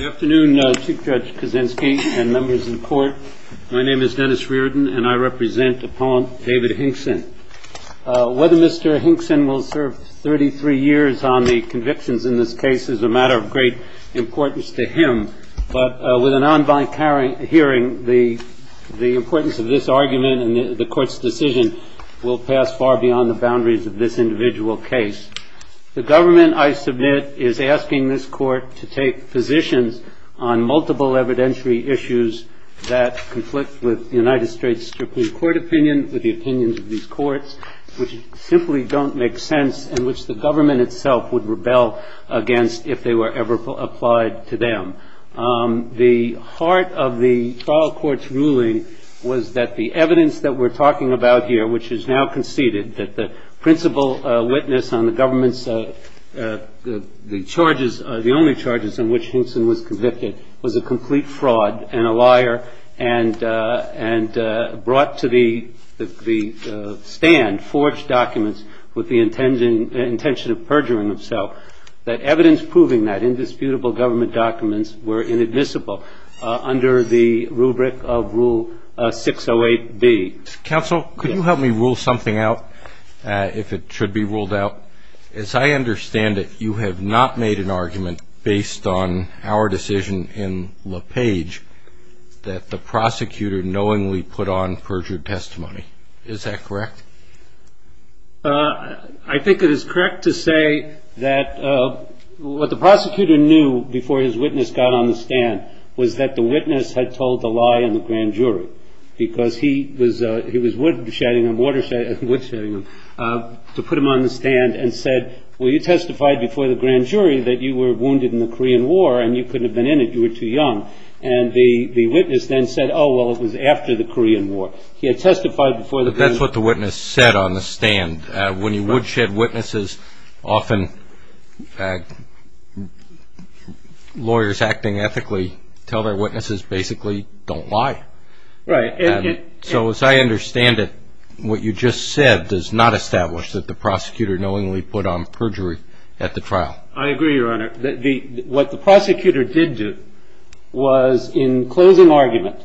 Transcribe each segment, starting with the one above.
Whether Mr. Hinkson will serve 33 years on the convictions in this case is a matter of great importance to him, but with an en banc hearing, the importance of this argument and the Court's decision will pass far beyond the boundaries of this individual case. The government, I submit, is asking this Court to take positions on multiple evidentiary issues that conflict with the United States Supreme Court opinion, with the opinions of these courts, which simply don't make sense and which the government itself would rebel against if they were ever applied to them. The heart of the trial court's ruling was that the evidence that we're talking about here, which is now conceded that the principal witness on the government's charges, the only charges in which Hinkson was convicted, was a complete fraud and a liar and brought to the stand, forged documents, with the intention of perjuring himself. That evidence proving that indisputable government documents were inadmissible under the rubric of Rule 608B. Counsel, could you help me rule something out, if it should be ruled out? As I understand it, you have not made an argument based on our decision in LaPage that the prosecutor knowingly put on perjured testimony. Is that correct? I think it is correct to say that what the prosecutor knew before his witness got on the stand was that the witness had told the lie in the grand jury. Because he was woodshedding, to put him on the stand and said, well, you testified before the grand jury that you were wounded in the Korean War and you couldn't have been in it, you were too young. And the witness then said, oh, well, it was after the Korean War. But that's what the witness said on the stand. When you woodshed witnesses, often lawyers acting ethically tell their witnesses basically don't lie. So as I understand it, what you just said does not establish that the prosecutor knowingly put on perjury at the trial. I agree, Your Honor. What the prosecutor did do was in closing argument,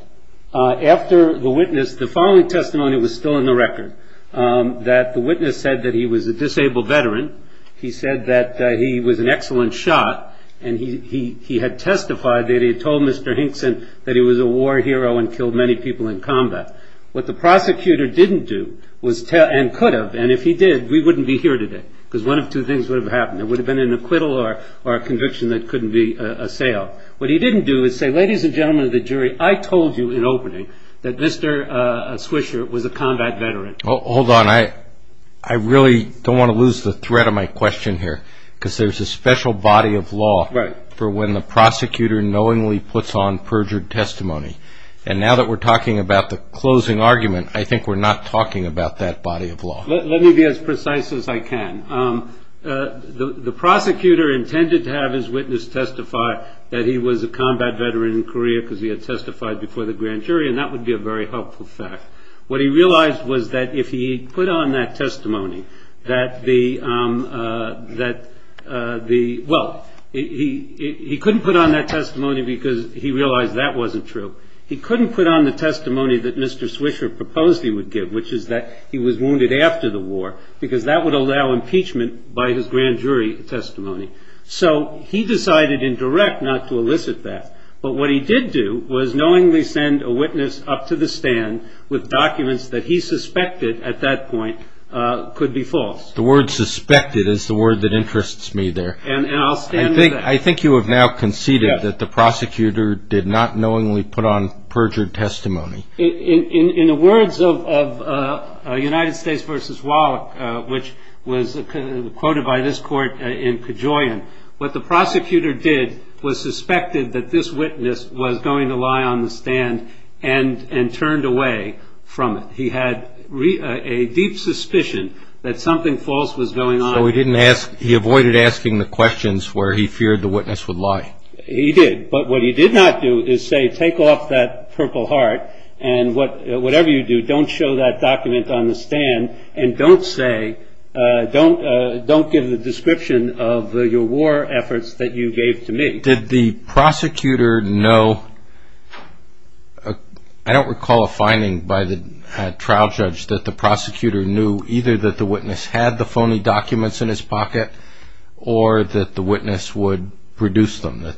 after the witness, the following testimony was still in the record, that the witness said that he was a disabled veteran. He said that he was an excellent shot, and he had testified that he had told Mr. Hinkson that he was a war hero and killed many people in combat. What the prosecutor didn't do and could have, and if he did, we wouldn't be here today. Because one of two things would have happened. There would have been an acquittal or a conviction that couldn't be assailed. What he didn't do is say, ladies and gentlemen of the jury, I told you in opening that Mr. Swisher was a combat veteran. Hold on. I really don't want to lose the thread of my question here, because there's a special body of law for when the prosecutor knowingly puts on perjured testimony. And now that we're talking about the closing argument, I think we're not talking about that body of law. Let me be as precise as I can. The prosecutor intended to have his witness testify that he was a combat veteran in Korea because he had testified before the grand jury, and that would be a very helpful fact. What he realized was that if he put on that testimony that the – well, he couldn't put on that testimony because he realized that wasn't true. He couldn't put on the testimony that Mr. Swisher proposed he would give, which is that he was wounded after the war, because that would allow impeachment by his grand jury testimony. So he decided in direct not to elicit that. But what he did do was knowingly send a witness up to the stand with documents that he suspected at that point could be false. The word suspected is the word that interests me there. And I'll stand with that. I think you have now conceded that the prosecutor did not knowingly put on perjured testimony. In the words of United States v. Wallach, which was quoted by this court in Kajoyan, what the prosecutor did was suspected that this witness was going to lie on the stand and turned away from it. He had a deep suspicion that something false was going on. So he avoided asking the questions where he feared the witness would lie. He did. But what he did not do is say, take off that purple heart and whatever you do, don't show that document on the stand and don't give a description of your war efforts that you gave to me. Did the prosecutor know? I don't recall a finding by the trial judge that the prosecutor knew either that the witness had the phony documents in his pocket or that the witness would produce them.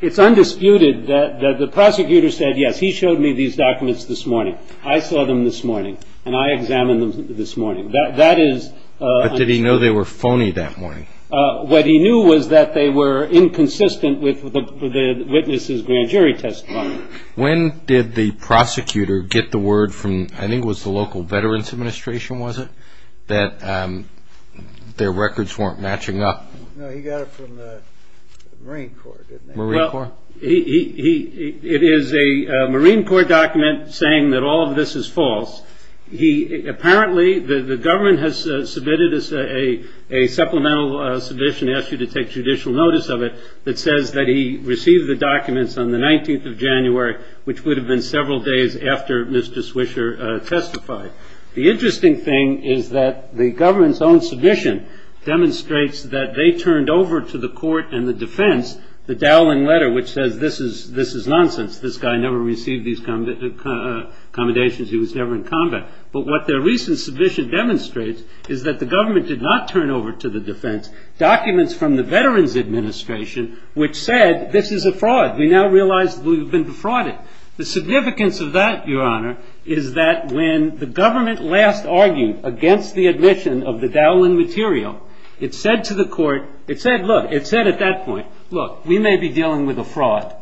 It's undisputed that the prosecutor said, yes, he showed me these documents this morning. I saw them this morning and I examined them this morning. But did he know they were phony that morning? What he knew was that they were inconsistent with the witness's grand jury testimony. When did the prosecutor get the word from, I think it was the local Veterans Administration, was it, that their records weren't matching up? No, he got it from the Marine Corps, didn't he? Well, it is a Marine Corps document saying that all of this is false. Apparently the government has submitted a supplemental submission, and they ask you to take judicial notice of it, that says that he received the documents on the 19th of January, which would have been several days after Mr. Swisher testified. The interesting thing is that the government's own submission demonstrates that they turned over to the court and the defense the dowling letter, which says this is nonsense. This guy never received these accommodations. He was never in combat. But what their recent submission demonstrates is that the government did not turn over to the defense documents from the Veterans Administration, which said this is a fraud. We now realize we've been defrauded. The significance of that, Your Honor, is that when the government last argued against the admission of the dowling material, it said to the court, it said, look, it said at that point, look, we may be dealing with a fraud.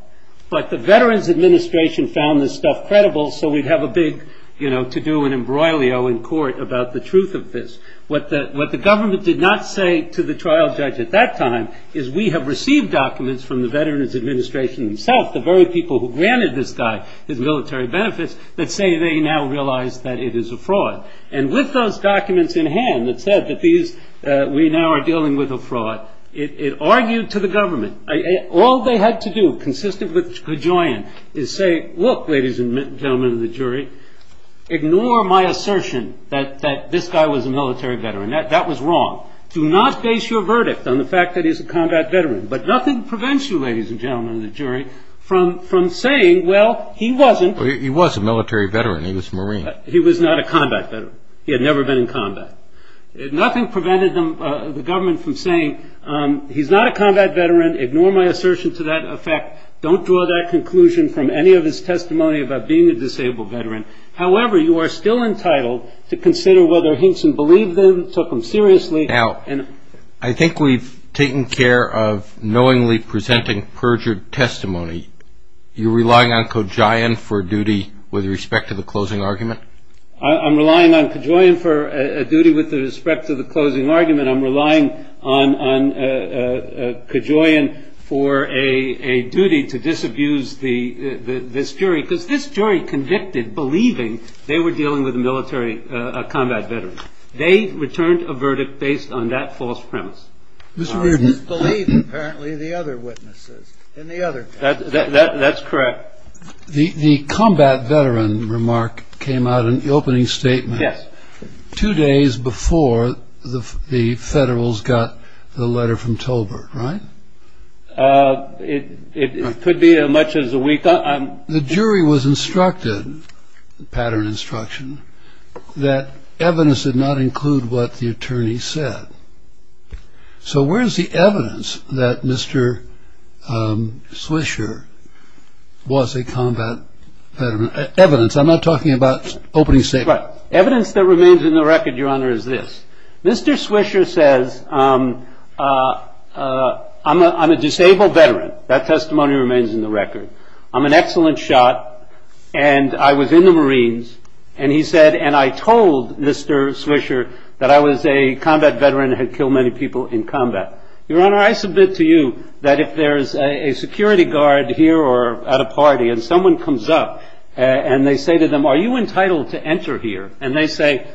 But the Veterans Administration found this stuff credible, so we'd have a big, you know, to-do and embroilio in court about the truth of this. What the government did not say to the trial judge at that time is we have received documents from the Veterans Administration itself, the very people who granted this guy his military benefits, that say they now realize that it is a fraud. And with those documents in hand, it said that we now are dealing with a fraud. It argued to the government. All they had to do, consistently cajoling, is say, look, ladies and gentlemen of the jury, ignore my assertion that this guy was a military veteran. That was wrong. Do not base your verdict on the fact that he's a combat veteran. But nothing prevents you, ladies and gentlemen of the jury, from saying, well, he wasn't. He was a military veteran. He was a Marine. He was not a combat veteran. He had never been in combat. Nothing prevented the government from saying, he's not a combat veteran. Ignore my assertion to that effect. Don't draw that conclusion from any of his testimony about being a disabled veteran. However, you are still entitled to consider whether Hinson believed them, took them seriously. Now, I think we've taken care of knowingly presenting perjured testimony. You're relying on cajoling for duty with respect to the closing argument? I'm relying on cajoling for a duty with respect to the closing argument. I'm relying on cajoling for a duty to disabuse this jury, because this jury convicted believing they were dealing with a military combat veteran. They returned a verdict based on that false premise. Mr. Reardon. I believe, apparently, the other witnesses. That's correct. The combat veteran remark came out in the opening statement. Yes. Two days before the Federals got the letter from Tolbert, right? It could be as much as a week. The jury was instructed, pattern instruction, that evidence did not include what the attorney said. So where's the evidence that Mr. Swisher was a combat veteran? Evidence. I'm not talking about opening statements. Evidence that remains in the record, Your Honor, is this. Mr. Swisher says, I'm a disabled veteran. That testimony remains in the record. I'm an excellent shot, and I was in the Marines. And he said, and I told Mr. Swisher that I was a combat veteran who had killed many people in combat. Your Honor, I submit to you that if there's a security guard here or at a party, and someone comes up and they say to them, are you entitled to enter here? And they say,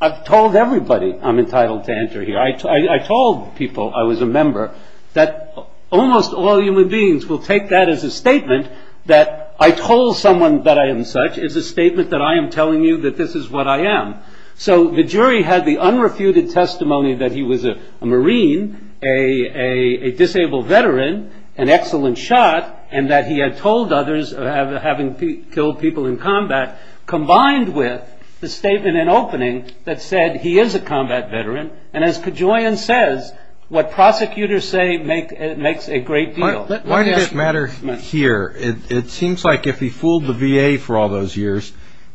I've told everybody I'm entitled to enter here. I told people I was a member that almost all human beings will take that as a statement, that I told someone that I am such is a statement that I am telling you that this is what I am. So the jury had the unrefuted testimony that he was a Marine, a disabled veteran, an excellent shot, and that he had told others of having killed people in combat, combined with the statement in opening that said he is a combat veteran. And as Kajoyan says, what prosecutors say makes a great deal. Why does this matter here? It seems like if he fooled the VA for all those years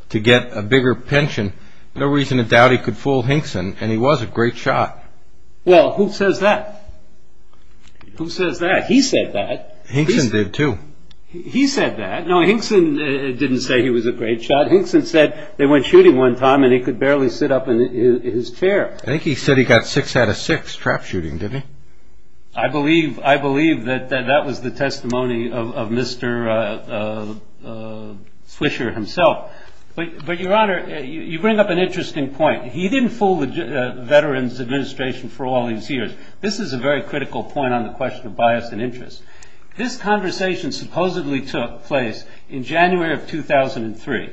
to get a bigger pension, no reason to doubt he could fool Hinkson, and he was a great shot. Well, who says that? Who says that? He said that. Hinkson did, too. He said that. No, Hinkson didn't say he was a great shot. Hinkson said they went shooting one time, and he could barely sit up in his chair. I think he said he got six out of six trap shooting, didn't he? I believe that that was the testimony of Mr. Fischer himself. But, Your Honor, you bring up an interesting point. He didn't fool the Veterans Administration for all these years. This is a very critical point on the question of bias and interest. This conversation supposedly took place in January of 2003.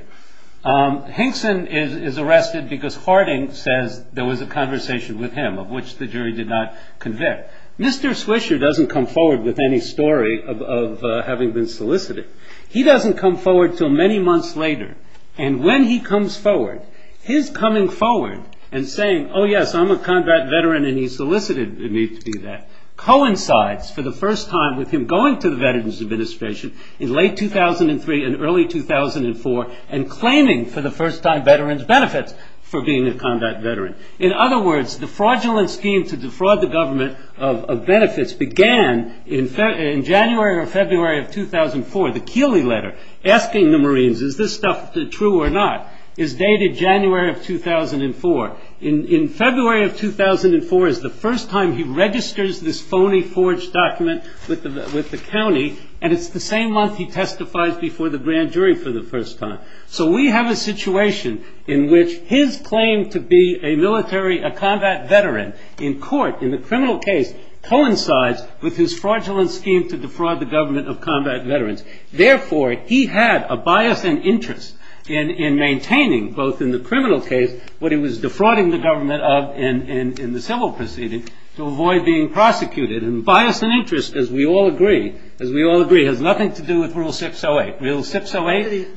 Hinkson is arrested because Harding said there was a conversation with him of which the jury did not convict. Mr. Fischer doesn't come forward with any story of having been solicited. He doesn't come forward until many months later, and when he comes forward, his coming forward and saying, oh, yes, I'm a combat veteran and he solicited me to do that, coincides for the first time with him going to the Veterans Administration in late 2003 and early 2004 and claiming for the first time veterans' benefits for being a combat veteran. In other words, the fraudulent scheme to defraud the government of benefits began in January or February of 2004. The Keeley letter asking the Marines, is this stuff true or not, is dated January of 2004. In February of 2004 is the first time he registers this phony forged document with the county, and it's the same month he testifies before the grand jury for the first time. So we have a situation in which his claim to be a military combat veteran in court, in a criminal case, coincides with his fraudulent scheme to defraud the government of combat veterans. Therefore, he had a bias and interest in maintaining, both in the criminal case, what he was defrauding the government of in the civil proceeding to avoid being prosecuted. And bias and interest, as we all agree, has nothing to do with Rule 608. Rule 608?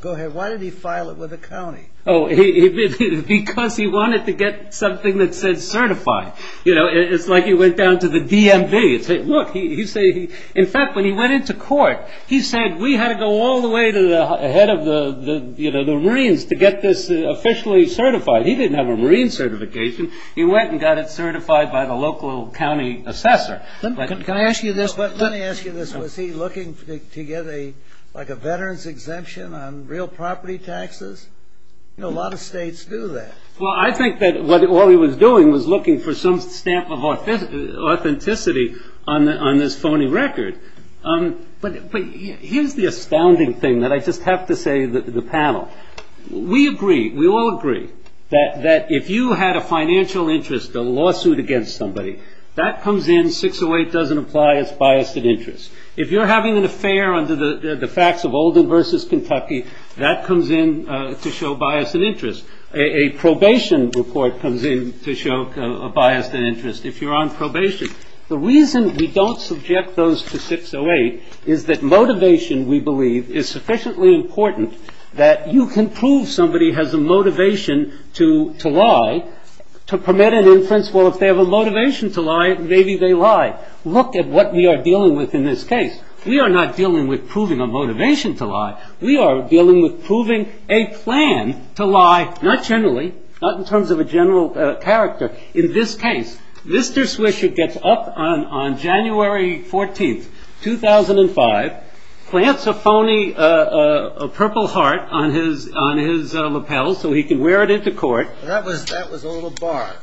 Go ahead. Why did he file it with the county? Because he wanted to get something that said certified. It's like he went down to the DMV. In fact, when he went into court, he said, we had to go all the way to the head of the Marines to get this officially certified. He didn't have a Marine certification. He went and got it certified by the local county assessor. Can I ask you this? Let me ask you this. Was he looking to get a veterans exemption on real property taxes? A lot of states do that. Well, I think that what he was doing was looking for some stamp of authenticity on this phony record. But here's the astounding thing that I just have to say to the panel. We agree, we all agree, that if you had a financial interest, a lawsuit against somebody, that comes in, 608 doesn't apply, it's bias and interest. If you're having an affair under the facts of Oldham versus Kentucky, that comes in to show bias and interest. A probation report comes in to show a bias and interest. If you're on probation. The reason we don't subject those to 608 is that motivation, we believe, is sufficiently important that you can prove somebody has a motivation to lie to permit an inference, well, if they have a motivation to lie, maybe they lie. Look at what we are dealing with in this case. We are not dealing with proving a motivation to lie. We are dealing with proving a plan to lie, not generally, not in terms of a general character. In this case, Mr. Swisher gets up on January 14th, 2005, plants a phony purple heart on his lapel so he can wear it into court. That was a little bar.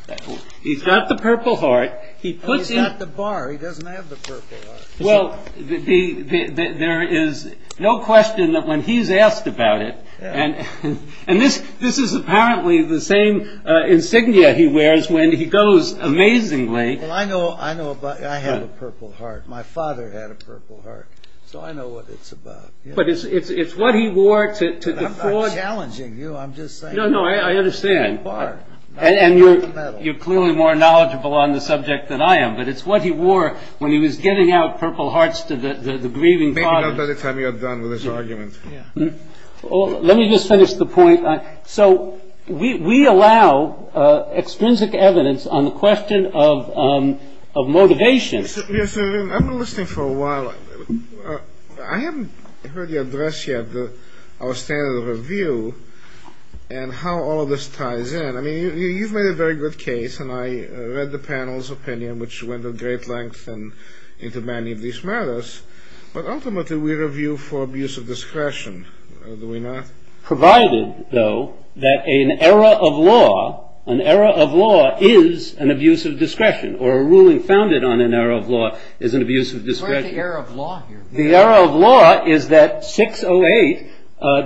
He's got the purple heart. He's got the bar, he doesn't have the purple heart. Well, there is no question that when he's asked about it, and this is apparently the same insignia he wears when he goes amazingly. Well, I know about, I have a purple heart. My father had a purple heart, so I know what it's about. But it's what he wore to the court. I'm not challenging you, I'm just saying. No, no, I understand. And you're clearly more knowledgeable on the subject than I am, but it's what he wore when he was getting out purple hearts to the grieving father. Maybe not by the time you're done with this argument. Let me just finish the point. So we allow extrinsic evidence on the question of motivation. Yes, I've been listening for a while. I haven't heard you address yet our standard of review and how all this ties in. I mean, you've made a very good case, and I read the panel's opinion, which went at great length and into many of these matters. But ultimately we review for abuse of discretion, do we not? Provided, though, that an error of law is an abuse of discretion, or a ruling founded on an error of law is an abuse of discretion. Where is the error of law here? The error of law is that 608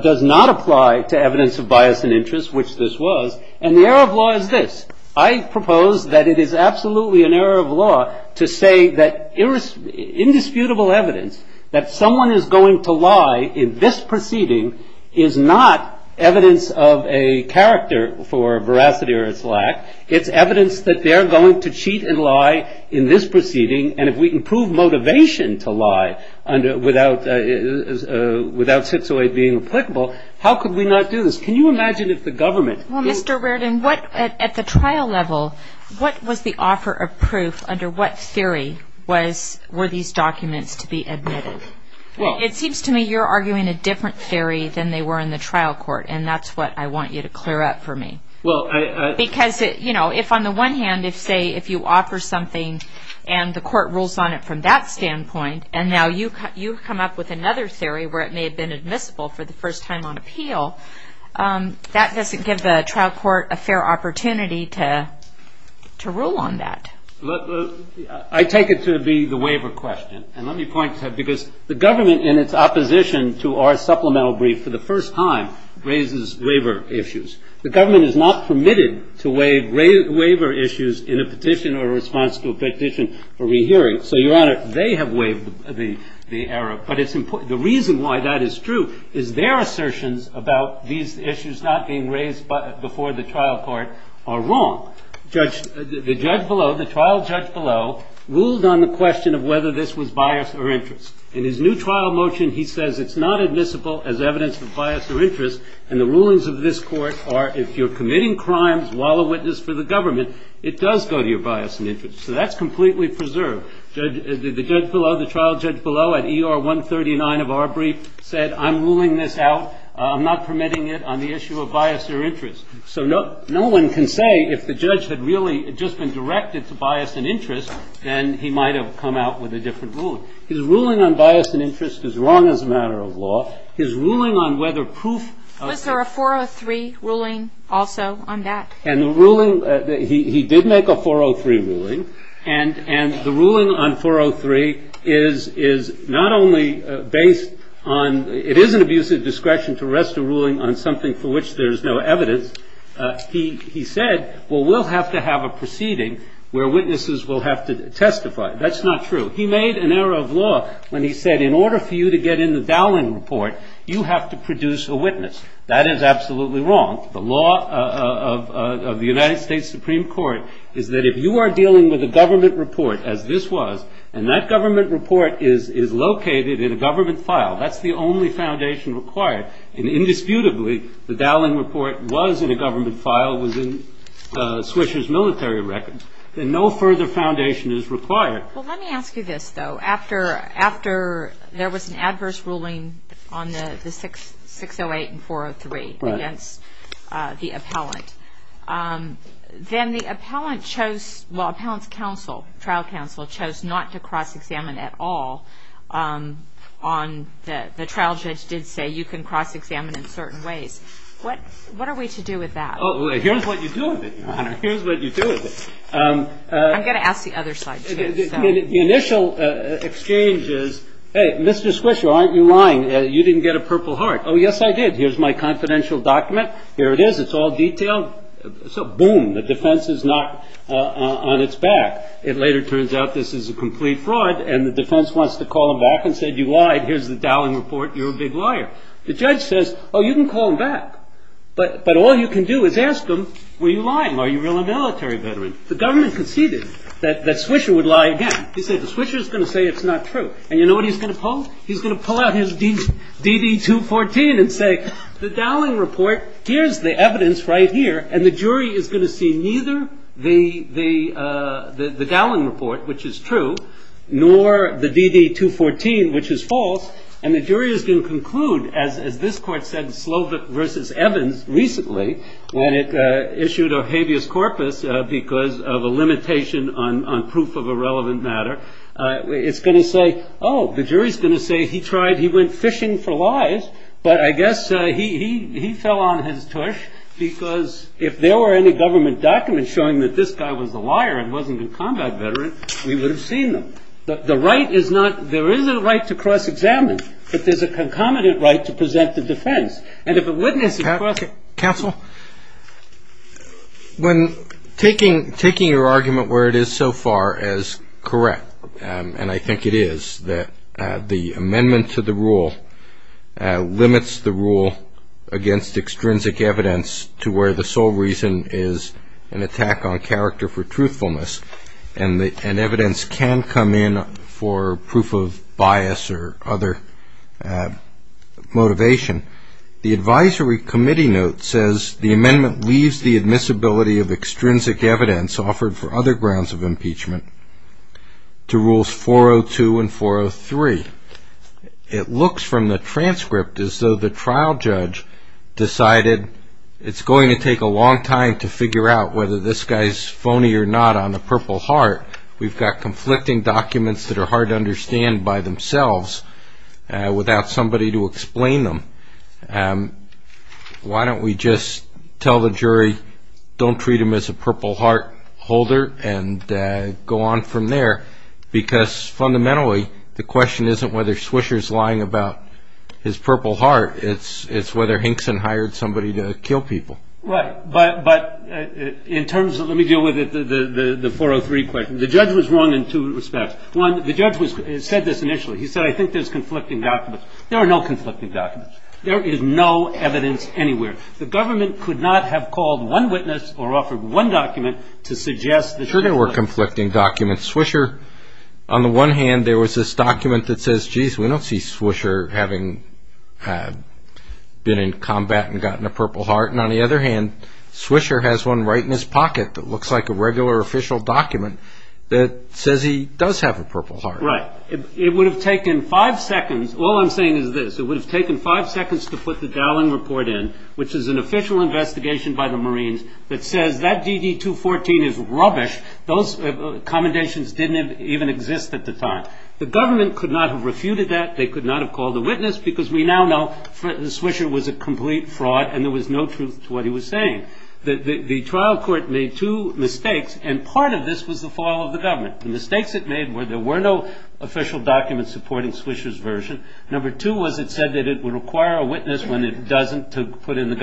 does not apply to evidence of bias and interest, which this was. And the error of law is this. I propose that it is absolutely an error of law to say that indisputable evidence that someone is going to lie in this proceeding is not evidence of a character for veracity or its lack. It's evidence that they're going to cheat and lie in this proceeding, and if we can prove motivation to lie without 608 being applicable, how could we not do this? Can you imagine if the government... Well, Mr. Reddin, at the trial level, what was the offer of proof under what theory were these documents to be admitted? It seems to me you're arguing a different theory than they were in the trial court, and that's what I want you to clear up for me. Well, I... Because, you know, if on the one hand, say, if you offer something and the court rules on it from that standpoint, and now you've come up with another theory where it may have been admissible for the first time on appeal, that doesn't give the trial court a fair opportunity to rule on that. I take it to be the waiver question, and let me point to it, because the government, in its opposition to our supplemental brief for the first time, raises waiver issues. The government is not permitted to waive waiver issues in a petition or a response to a petition or rehearing, so, Your Honor, they have waived the error. But the reason why that is true is their assertions about these issues not being raised before the trial court are wrong. The judge below, the trial judge below, ruled on the question of whether this was bias or interest. In his new trial motion, he says it's not admissible as evidence of bias or interest, and the rulings of this court are if you're committing crimes while a witness for the government, it does go to your bias and interest. So that's completely preserved. The judge below, the trial judge below, at ER 139 of our brief, said I'm ruling this out. I'm not permitting it on the issue of bias or interest. So no one can say if the judge had really just been directed to bias and interest, then he might have come out with a different ruling. His ruling on bias and interest is wrong as a matter of law. His ruling on whether proof of- Was there a 403 ruling also on that? He did make a 403 ruling, and the ruling on 403 is not only based on- It is an abuse of discretion to rest a ruling on something for which there is no evidence. He said, well, we'll have to have a proceeding where witnesses will have to testify. That's not true. He made an error of law when he said in order for you to get in the Dowling report, you have to produce a witness. That is absolutely wrong. The law of the United States Supreme Court is that if you are dealing with a government report, as this was, and that government report is located in a government file, that's the only foundation required, and indisputably the Dowling report was in a government file, was in Swisher's military records, then no further foundation is required. Well, let me ask you this, though. After there was an adverse ruling on the 608 and 403 against the appellant, then the appellant chose-well, the trial counsel chose not to cross-examine at all. The trial judge did say you can cross-examine in certain ways. What are we to do with that? Here's what you do with it, Your Honor. Here's what you do with it. I'm going to ask the other side. The initial exchange is, hey, Mr. Swisher, aren't you lying? You didn't get a Purple Heart. Oh, yes, I did. Here's my confidential document. Here it is. It's all detailed. So, boom, the defense is knocked on its back. It later turns out this is a complete fraud, and the defense wants to call him off and says you lied. Here's the Dowling report. You're a big liar. The judge says, oh, you can call him back, but all you can do is ask him, were you lying? Are you really a military veteran? The government conceded that Swisher would lie again. They say the Swisher is going to say it's not true. And you know what he's going to pull? He's going to pull out his DD-214 and say, the Dowling report, here's the evidence right here, and the jury is going to see neither the Dowling report, which is true, nor the DD-214, which is false, and the jury is going to conclude, as this court said in Slovik v. Evans recently, when it issued a habeas corpus because of a limitation on proof of a relevant matter, it's going to say, oh, the jury is going to say he tried, he went fishing for lies, but I guess he fell on his tush because if there were any government documents showing that this guy was a liar and wasn't a combat veteran, we would have seen them. The right is not, there isn't a right to cross-examine, but there's a concomitant right to present the defense. Counsel, when taking your argument where it is so far as correct, and I think it is, that the amendment to the rule limits the rule against extrinsic evidence to where the sole reason is an attack on character for truthfulness, and evidence can come in for proof of bias or other motivation. The advisory committee note says the amendment leaves the admissibility of extrinsic evidence offered for other grounds of impeachment to rules 402 and 403. It looks from the transcript as though the trial judge decided it's going to take a long time to figure out whether this guy's phony or not on the Purple Heart. We've got conflicting documents that are hard to understand by themselves without somebody to explain them. Why don't we just tell the jury, don't treat him as a Purple Heart holder, and go on from there? Because fundamentally, the question isn't whether Swisher's lying about his Purple Heart, it's whether Hinkson hired somebody to kill people. Right, but in terms of, let me deal with the 403 question. The judge was wrong in two respects. One, the judge said this initially. He said, I think there's conflicting documents. There are no conflicting documents. There is no evidence anywhere. The government could not have called one witness or offered one document to suggest the truth. Sure there were conflicting documents. Swisher, on the one hand, there was this document that says, we don't see Swisher having been in combat and gotten a Purple Heart, and on the other hand, Swisher has one right in his pocket that looks like a regular official document that says he does have a Purple Heart. Right. It would have taken five seconds. All I'm saying is this. It would have taken five seconds to put the Dowling Report in, which is an official investigation by the Marines that says that DD-214 is rubbish. Those commendations didn't even exist at the time. The government could not have refuted that. They could not have called a witness because we now know that Swisher was a complete fraud and there was no truth to what he was saying. The trial court made two mistakes, and part of this was the fall of the government. The mistakes it made were there were no official documents supporting Swisher's version. Number two was it said that it would require a witness when it doesn't to put in the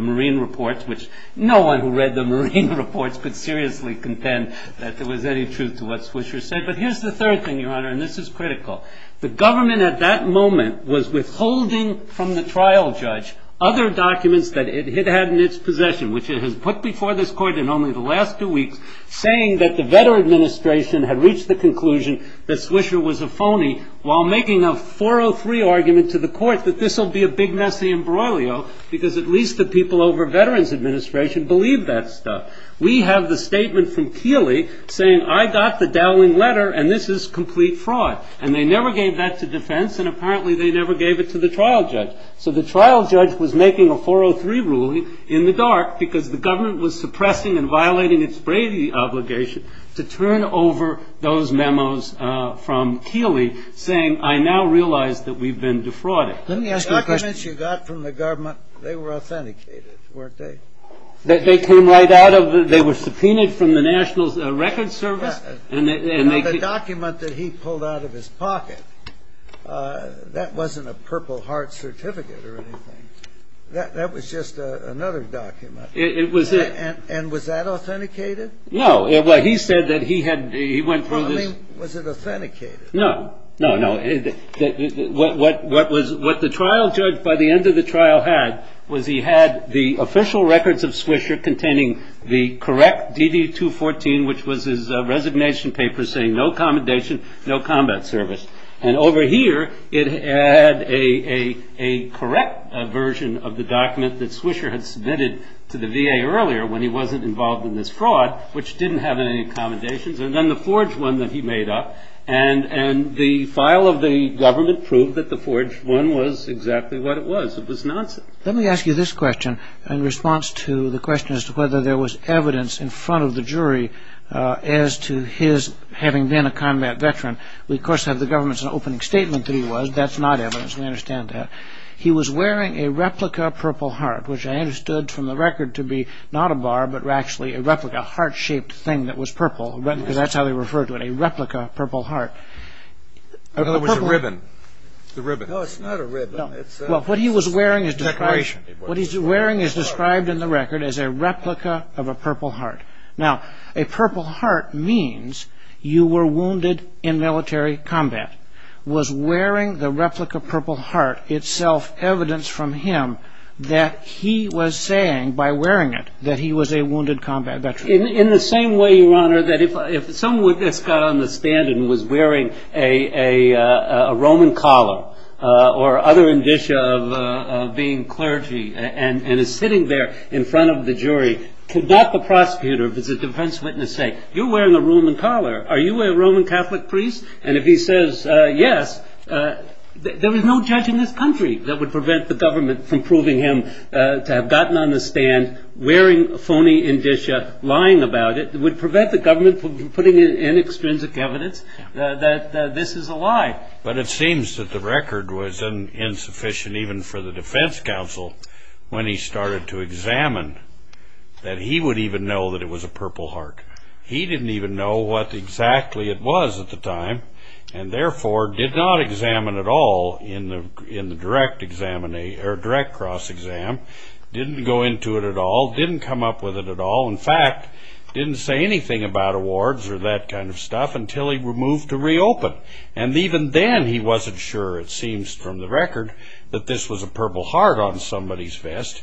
Marine Reports, which no one who read the Marine Reports could seriously contend that there was any truth to what Swisher said. But here's the third thing, Your Honor, and this is critical. The government at that moment was withholding from the trial judge other documents that it had in its possession, which it had put before this court in only the last two weeks, saying that the Veterans Administration had reached the conclusion that Swisher was a phony while making a 403 argument to the court that this will be a big, messy imbroglio because at least the people over Veterans Administration believed that stuff. We have the statement from Keeley saying, I got the Dowling letter and this is complete fraud. And they never gave that to defense and apparently they never gave it to the trial judge. So the trial judge was making a 403 ruling in the dark because the government was suppressing and violating its bravery obligation to turn over those memos from Keeley saying, I now realize that we've been defrauded. Let me ask you a question. The documents you got from the government, they were authenticated, weren't they? They came right out of the, they were subpoenaed from the National Records Service? The document that he pulled out of his pocket, that wasn't a Purple Heart certificate or anything. That was just another document. And was that authenticated? No, he said that he had, he went through this. I mean, was it authenticated? No, no, no. What the trial judge by the end of the trial had was he had the official records of Swisher containing the correct DD-214, which was his resignation paper saying no commendation, no combat service. And over here it had a correct version of the document that Swisher had submitted to the VA earlier when he wasn't involved in this fraud, which didn't have any accommodations. And then the forged one that he made up. And the file of the government proved that the forged one was exactly what it was. It was not. Let me ask you this question in response to the question as to whether there was evidence in front of the jury as to his having been a combat veteran. We, of course, have the government's opening statement that he was. That's not evidence. We understand that. He was wearing a replica Purple Heart, which I understood from the record to be not a bar, but actually a replica heart-shaped thing that was purple. That's how they refer to it, a replica Purple Heart. In other words, a ribbon. It's a ribbon. No, it's not a ribbon. It's a decoration. What he's wearing is described in the record as a replica of a Purple Heart. Now, a Purple Heart means you were wounded in military combat. Was wearing the replica Purple Heart itself evidence from him that he was saying by wearing it that he was a wounded combat veteran? In the same way, Your Honor, that if some witness got on the stand and was wearing a Roman collar or other indicia of being clergy and is sitting there in front of the jury, could not the prosecutor, the defense witness, say, You're wearing a Roman collar. Are you a Roman Catholic priest? And if he says yes, there is no judge in this country that would prevent the government from proving him to have gotten on the stand wearing a phony indicia, lying about it, would prevent the government from putting in extrinsic evidence that this is a lie. But it seems that the record was insufficient even for the defense counsel when he started to examine that he would even know that it was a Purple Heart. He didn't even know what exactly it was at the time and, therefore, did not examine at all in the direct cross-exam, didn't go into it at all, didn't come up with it at all, in fact, didn't say anything about awards or that kind of stuff until he moved to reopen. And even then he wasn't sure, it seems from the record, that this was a Purple Heart on somebody's vest.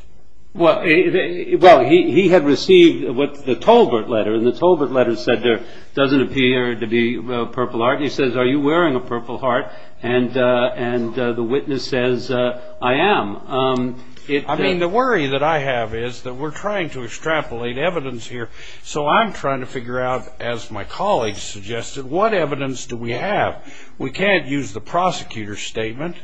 Well, he had received the Tolbert letter, and the Tolbert letter said there doesn't appear to be a Purple Heart. He says, Are you wearing a Purple Heart? And the witness says, I am. I mean, the worry that I have is that we're trying to extrapolate evidence here. So I'm trying to figure out, as my colleagues suggested, what evidence do we have? We can't use the prosecutor's statement.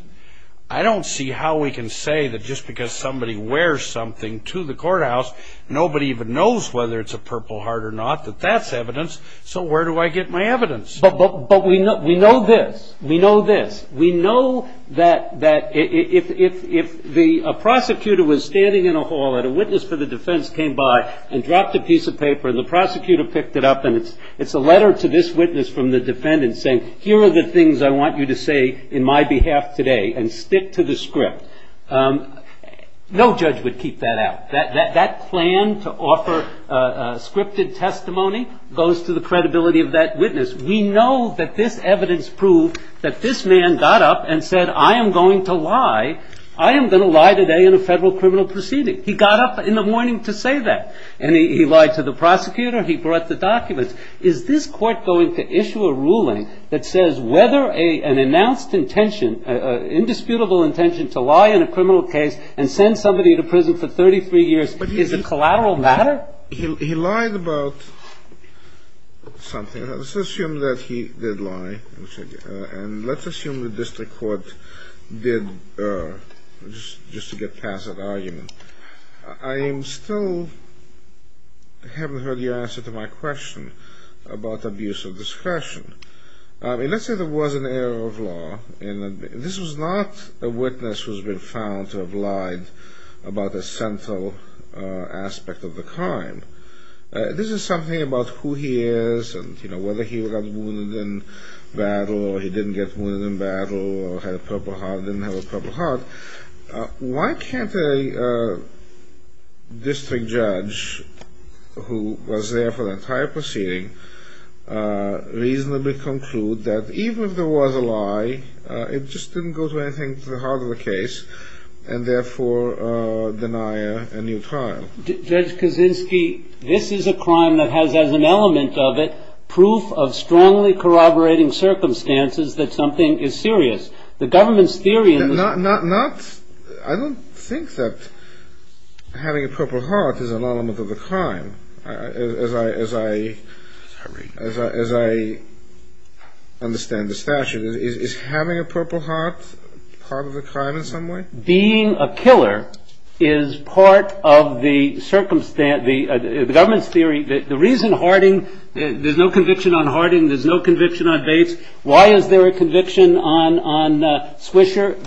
I don't see how we can say that just because somebody wears something to the courthouse, nobody even knows whether it's a Purple Heart or not, that that's evidence. So where do I get my evidence? But we know this. We know this. We know that if a prosecutor was standing in a hall and a witness for the defense came by and dropped a piece of paper and the prosecutor picked it up and it's a letter to this witness from the defendant saying, Here are the things I want you to say in my behalf today, and stick to the script. No judge would keep that out. That plan to offer scripted testimony goes to the credibility of that witness. We know that this evidence proved that this man got up and said, I am going to lie. I am going to lie today in a federal criminal proceeding. He got up in the morning to say that. And he lied to the prosecutor. He brought the documents. Is this court going to issue a ruling that says whether an announced intention, an indisputable intention to lie in a criminal case and send somebody to prison for 33 years is a collateral matter? He lied about something. Let's assume that he did lie. And let's assume the district court did, just to get past that argument. I am still, I haven't heard the answer to my question about abuse of discretion. Let's say there was an error of law. This was not a witness who has been found to have lied about a central aspect of the crime. This is something about who he is and, you know, whether he was wounded in battle or he didn't get wounded in battle or had a purple heart or didn't have a purple heart. Why can't a district judge who was there for the entire proceeding reasonably conclude that even if there was a lie, it just didn't go to anything to the heart of the case and therefore deny a new crime? Judge Kaczynski, this is a crime that has, as an element of it, proof of strongly corroborating circumstances that something is serious. I don't think that having a purple heart is an element of the crime, as I understand the statute. Is having a purple heart part of the crime in some way? Being a killer is part of the government's theory that the reason Harding, there's no conviction on Harding, there's no conviction on Bates, why is there a conviction on Swisher?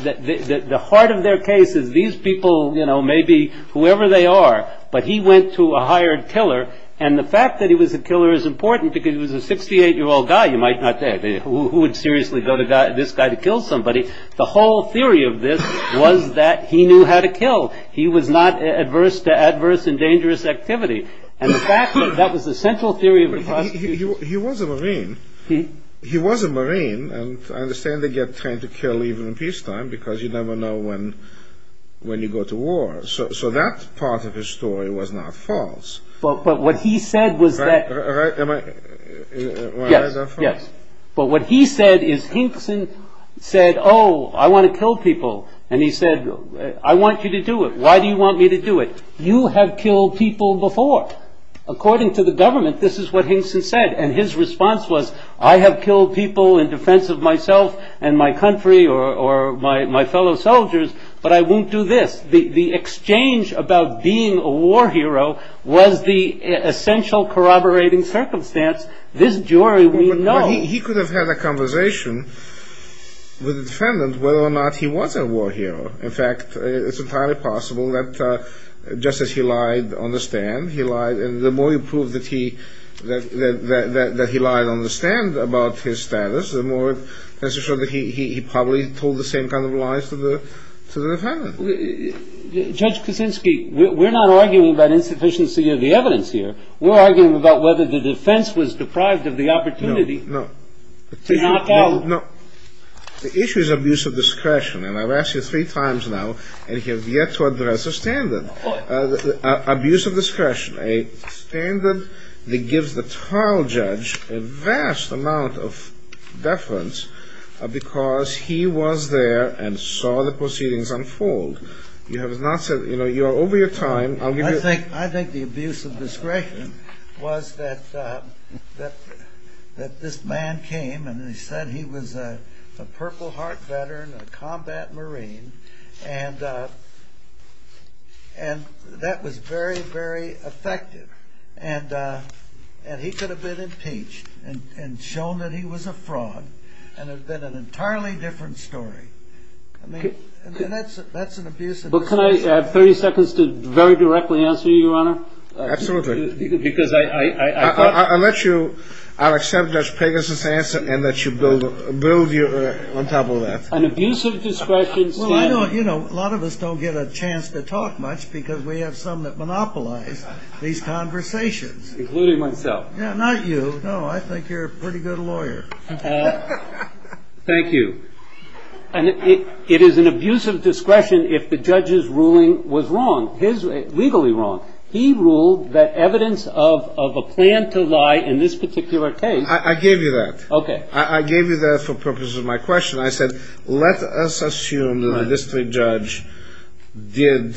The heart of their case is these people, you know, maybe whoever they are, but he went to a hired killer and the fact that he was a killer is important because he was a 68-year-old guy, you might not say, who would seriously go to this guy to kill somebody. The whole theory of this was that he knew how to kill. He was not adverse to adverse and dangerous activity. And the fact that that was the central theory of the prosecution. He was a Marine. He was a Marine, and I understand they get trained to kill even in peacetime because you never know when you go to war. So that part of his story was not false. But what he said was that... Am I... Yes, yes. But what he said is Hinkson said, oh, I want to kill people. And he said, I want you to do it. Why do you want me to do it? You have killed people before. Well, according to the government, this is what Hinkson said, and his response was, I have killed people in defense of myself and my country or my fellow soldiers, but I won't do this. The exchange about being a war hero was the essential corroborating circumstance. This jury would know. He could have had a conversation with the defendant whether or not he was a war hero. In fact, it's entirely possible that just as he lied on the stand, the more he proved that he lied on the stand about his status, the more it tends to show that he probably told the same kind of lies to the defendant. Judge Kuczynski, we're not arguing about insufficiency of the evidence here. We're arguing about whether the defense was deprived of the opportunity to knock out. No. The issue is abuse of discretion, and I've asked you three times now, and you have yet to address a standard. Abuse of discretion, a standard that gives the trial judge a vast amount of deference because he was there and saw the proceedings unfold. You have not said, you know, you're over your time. I think the abuse of discretion was that this man came and he said he was a Purple Heart veteran, a combat Marine, and that was very, very effective, and he could have been impeached and shown that he was a fraud and it would have been an entirely different story. Well, can I have 30 seconds to very directly answer you, Your Honor? Absolutely. Because I thought... I'll let you. I'll accept Judge Pegasus' answer and let you build your on top of that. An abuse of discretion... Well, you know, a lot of us don't get a chance to talk much because we have some that monopolize these conversations. Including myself. Yeah, not you. No, I think you're a pretty good lawyer. Thank you. It is an abuse of discretion if the judge's ruling was wrong, legally wrong. He ruled that evidence of a plan to lie in this particular case... I gave you that. Okay. I gave you that for purposes of my question. I said, let us assume that the district judge did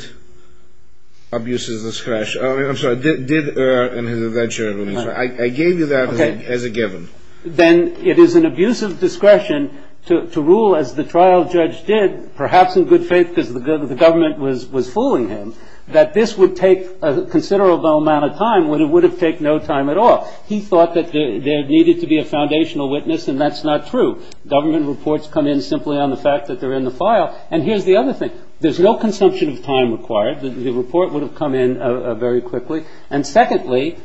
abuse of discretion. I'm sorry, did err in his adventure. I gave you that as a given. Then it is an abuse of discretion to rule as the trial judge did, perhaps in good faith because the government was fooling him, that this would take a considerable amount of time when it would have taken no time at all. He thought that there needed to be a foundational witness, and that's not true. Government reports come in simply on the fact that they're in the file. And here's the other thing. There's no consumption of time required. The report would have come in very quickly. And secondly,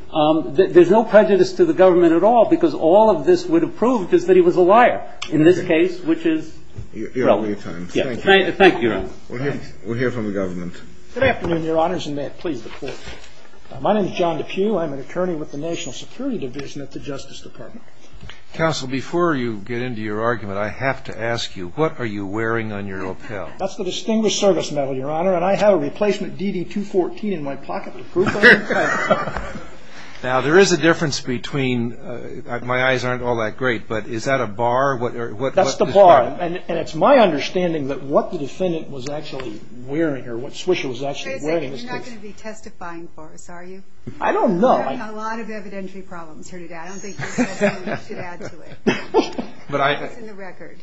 there's no prejudice to the government at all because all of this would have proved that he was a liar in this case, which is... You're out of your time. Thank you. We'll hear from the government. Good afternoon, Your Honors, and may it please the Court. My name is John DePue. I'm an attorney with the National Security Division at the Justice Department. Counsel, before you get into your argument, I have to ask you, what are you wearing on your lapel? That's the Distinguished Service Medal, Your Honor, and I have a replacement DD-214 in my pocket with proof of that. Now, there is a difference between... My eyes aren't all that great, but is that a bar? That's the bar. And it's my understanding that what the defendant was actually wearing or what Swisher was actually wearing... You're not going to be testifying for us, are you? I don't know. We're having a lot of evidentiary problems here today. I don't think you can add to it. It's in the record.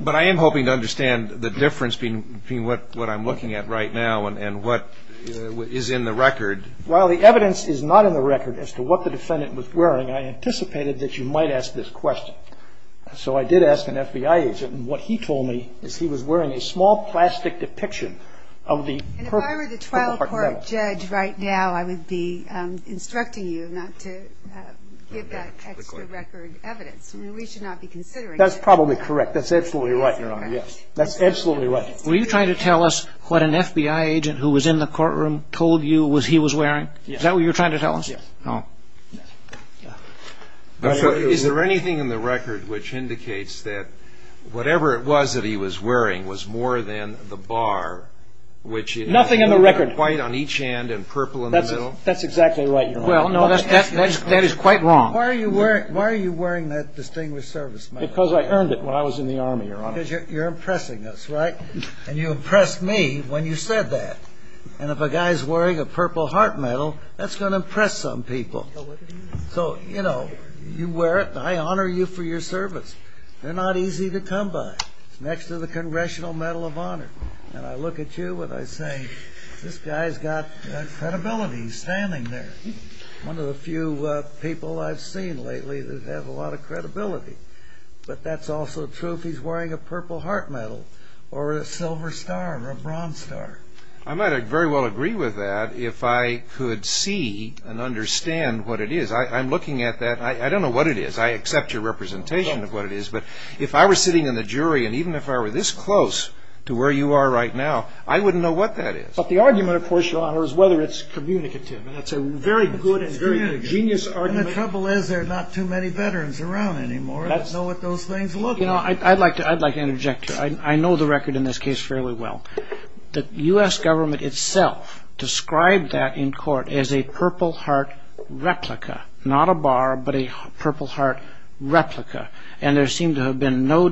But I am hoping to understand the difference between what I'm looking at right now and what is in the record. While the evidence is not in the record as to what the defendant was wearing, I anticipated that you might ask this question. So I did ask an FBI agent, and what he told me is he was wearing a small plastic depiction of the... And if I were the trial court judge right now, I would be instructing you not to give that text-to-record evidence. We should not be considering that. That's probably correct. That's absolutely right, Your Honor. That's absolutely right. Were you trying to tell us what an FBI agent who was in the courtroom told you he was wearing? Yes. Is that what you were trying to tell us? Yes. Oh. Is there anything in the record which indicates that whatever it was that he was wearing was more than the bar, which is... Nothing in the record. ...white on each hand and purple in the middle? That's exactly right, Your Honor. Well, no, that is quite wrong. Why are you wearing that distinguished service medal? Because I earned it while I was in the Army, Your Honor. Because you're impressing us, right? And you impressed me when you said that. And if a guy's wearing a purple heart medal, that's going to impress some people. So, you know, you wear it, and I honor you for your service. They're not easy to come by next to the Congressional Medal of Honor. And I look at you, and I think, this guy's got credibility. He's standing there. But that's also true if he's wearing a purple heart medal or a silver star or a bronze star. I might very well agree with that if I could see and understand what it is. I'm looking at that. I don't know what it is. I accept your representation of what it is. But if I were sitting in the jury, and even if I were this close to where you are right now, I wouldn't know what that is. But the argument, of course, Your Honor, is whether it's communicative. And that's a very good and very genius argument. And the trouble is there are not too many veterans around anymore. Let's know what those things look like. You know, I'd like to interject here. I know the record in this case fairly well. The U.S. government itself described that in court as a purple heart replica, not a bar, but a purple heart replica. And there seemed to have been no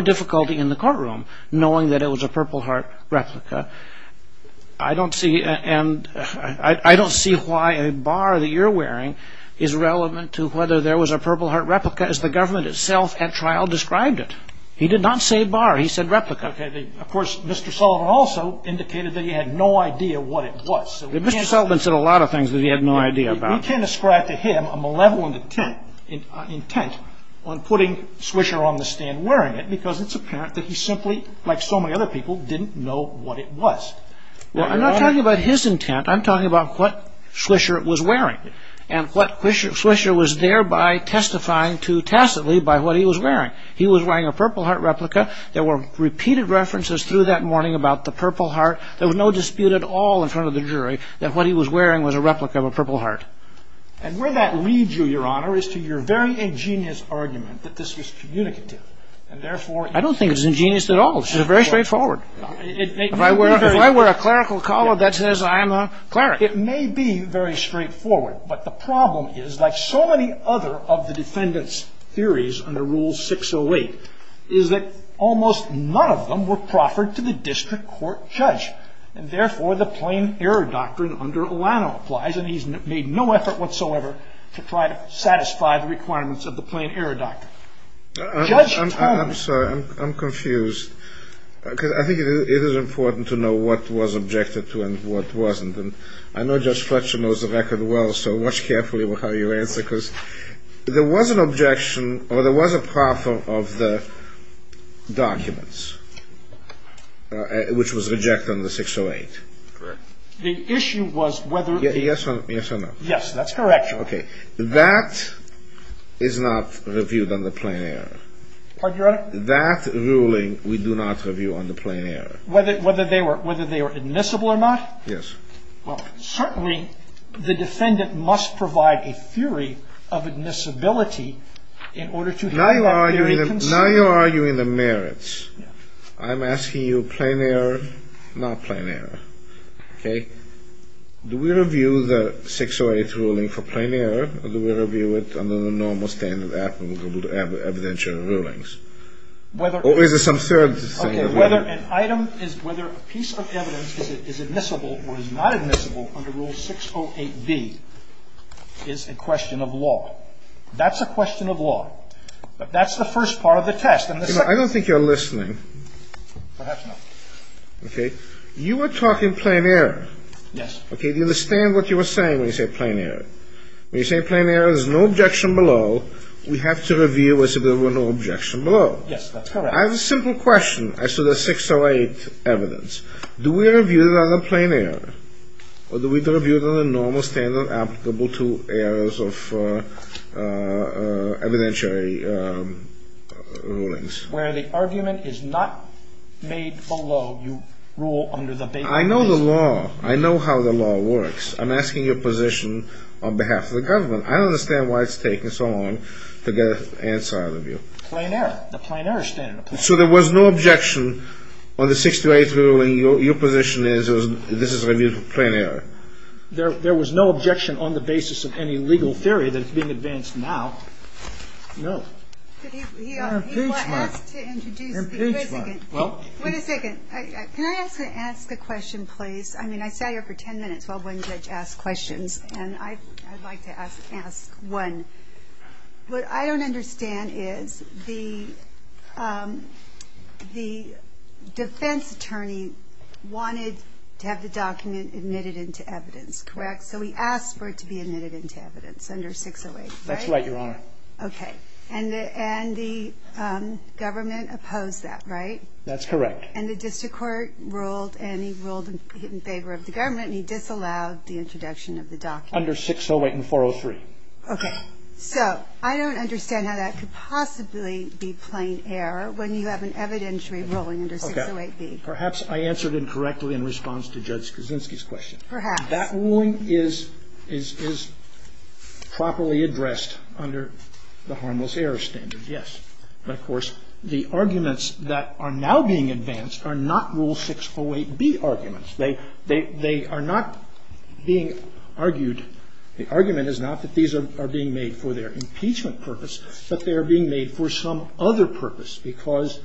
difficulty in the courtroom knowing that it was a purple heart replica. I don't see why a bar that you're wearing is relevant to whether there was a purple heart replica, as the government itself at trial described it. He did not say bar. He said replica. Of course, Mr. Sullivan also indicated that he had no idea what it was. Mr. Sullivan said a lot of things that he had no idea about. We tend to describe to him a malevolent intent on putting Swisher on the stand wearing it because it's apparent that he simply, like so many other people, didn't know what it was. I'm not talking about his intent. I'm talking about what Swisher was wearing and what Swisher was thereby testifying to tacitly by what he was wearing. He was wearing a purple heart replica. There were repeated references through that morning about the purple heart. There was no dispute at all in front of the jury that what he was wearing was a replica of a purple heart. And where that leads you, Your Honor, is to your very ingenious argument that this was communicative I don't think it's ingenious at all. It's very straightforward. If I wear a clerical collar, that says I'm a cleric. It may be very straightforward, but the problem is, like so many other of the defendant's theories under Rule 608, is that almost none of them were proffered to the district court judge, and therefore the plain error doctrine under Alano applies, and he's made no effort whatsoever to try to satisfy the requirements of the plain error doctrine. I'm sorry. I'm confused. I think it is important to know what was objected to and what wasn't, and I know Judge Fletcher knows the record well, so watch carefully with how you answer this. There was an objection, or there was a proffer of the documents, which was rejected under 608. Correct. The issue was whether... Yes or no? Yes, that's correct, Your Honor. Okay. That is not reviewed under plain error. Pardon, Your Honor? That ruling we do not review under plain error. Whether they were admissible or not? Yes. Well, certainly the defendant must provide a theory of admissibility in order to... Now you're arguing the merits. I'm asking you plain error, not plain error. Okay? Do we review the 608 ruling for plain error, or do we review it under the normal standard of admissible evidentiary rulings? Or is there some third... Okay. Whether an item is... Whether a piece of evidence is admissible or is not admissible under Rule 608B is a question of law. That's a question of law. But that's the first part of the test, and the second... I don't think you're listening. Perhaps not. Okay? You were talking plain error. Yes. Okay. Do you understand what you were saying when you said plain error? When you say plain error, there's no objection below. We have to review it so there's no objection below. Yes, that's correct. I have a simple question as to the 608 evidence. Do we review it under plain error, or do we review it under the normal standard of admissible to errors of evidentiary rulings? Where the argument is not made below, you rule under the... I know the law. I know how the law works. I'm asking your position on behalf of the government. I don't understand why it's taken so long to get an answer out of you. Plain error. The plain error standard. So there was no objection on the 608 ruling. Your position is this is reviewed for plain error. There was no objection on the basis of any legal theory that's being advanced now. No. Your impeachment. Your impeachment. Wait a second. Wait a second. Can I ask a question, please? I mean, I sat here for 10 minutes while one judge asked questions, and I'd like to ask one. What I don't understand is the defense attorney wanted to have the document admitted into evidence, correct? Correct. So we asked for it to be admitted into evidence under 608, right? That's right, Your Honor. Okay. And the government opposed that, right? That's correct. And the district court ruled, and he ruled in favor of the government, and he disallowed the introduction of the document. Under 608 and 403. Okay. So I don't understand how that could possibly be plain error when you have an evidentiary ruling under 608D. Perhaps I answered incorrectly in response to Judge Kuczynski's question. Perhaps. That ruling is properly addressed under the harmless error standard, yes. But, of course, the arguments that are now being advanced are not Rule 608B arguments. They are not being argued. The argument is not that these are being made for their impeachment purpose, but they are being made for some other purpose. Because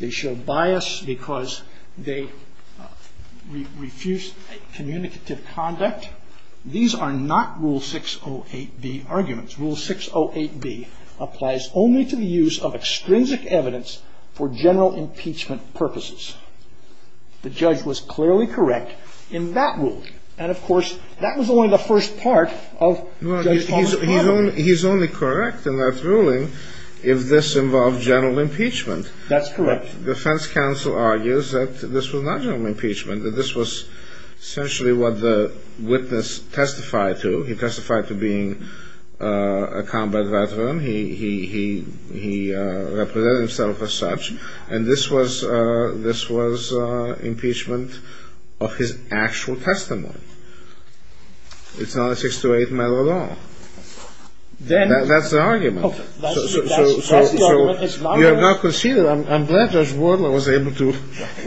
they show bias, because they refuse communicative conduct. These are not Rule 608B arguments. Rule 608B applies only to the use of extrinsic evidence for general impeachment purposes. The judge was clearly correct in that ruling. And, of course, that was only the first part of Judge Kuczynski's argument. He's only correct in that ruling if this involved general impeachment. That's correct. Defense counsel argues that this was not general impeachment, that this was essentially what the witness testified to. He testified to being a combat veteran. He represented himself as such. And this was impeachment of his actual testimony. It's not a 608 matter at all. That's the argument. So, you have now conceded. I'm glad Judge Wardle was able to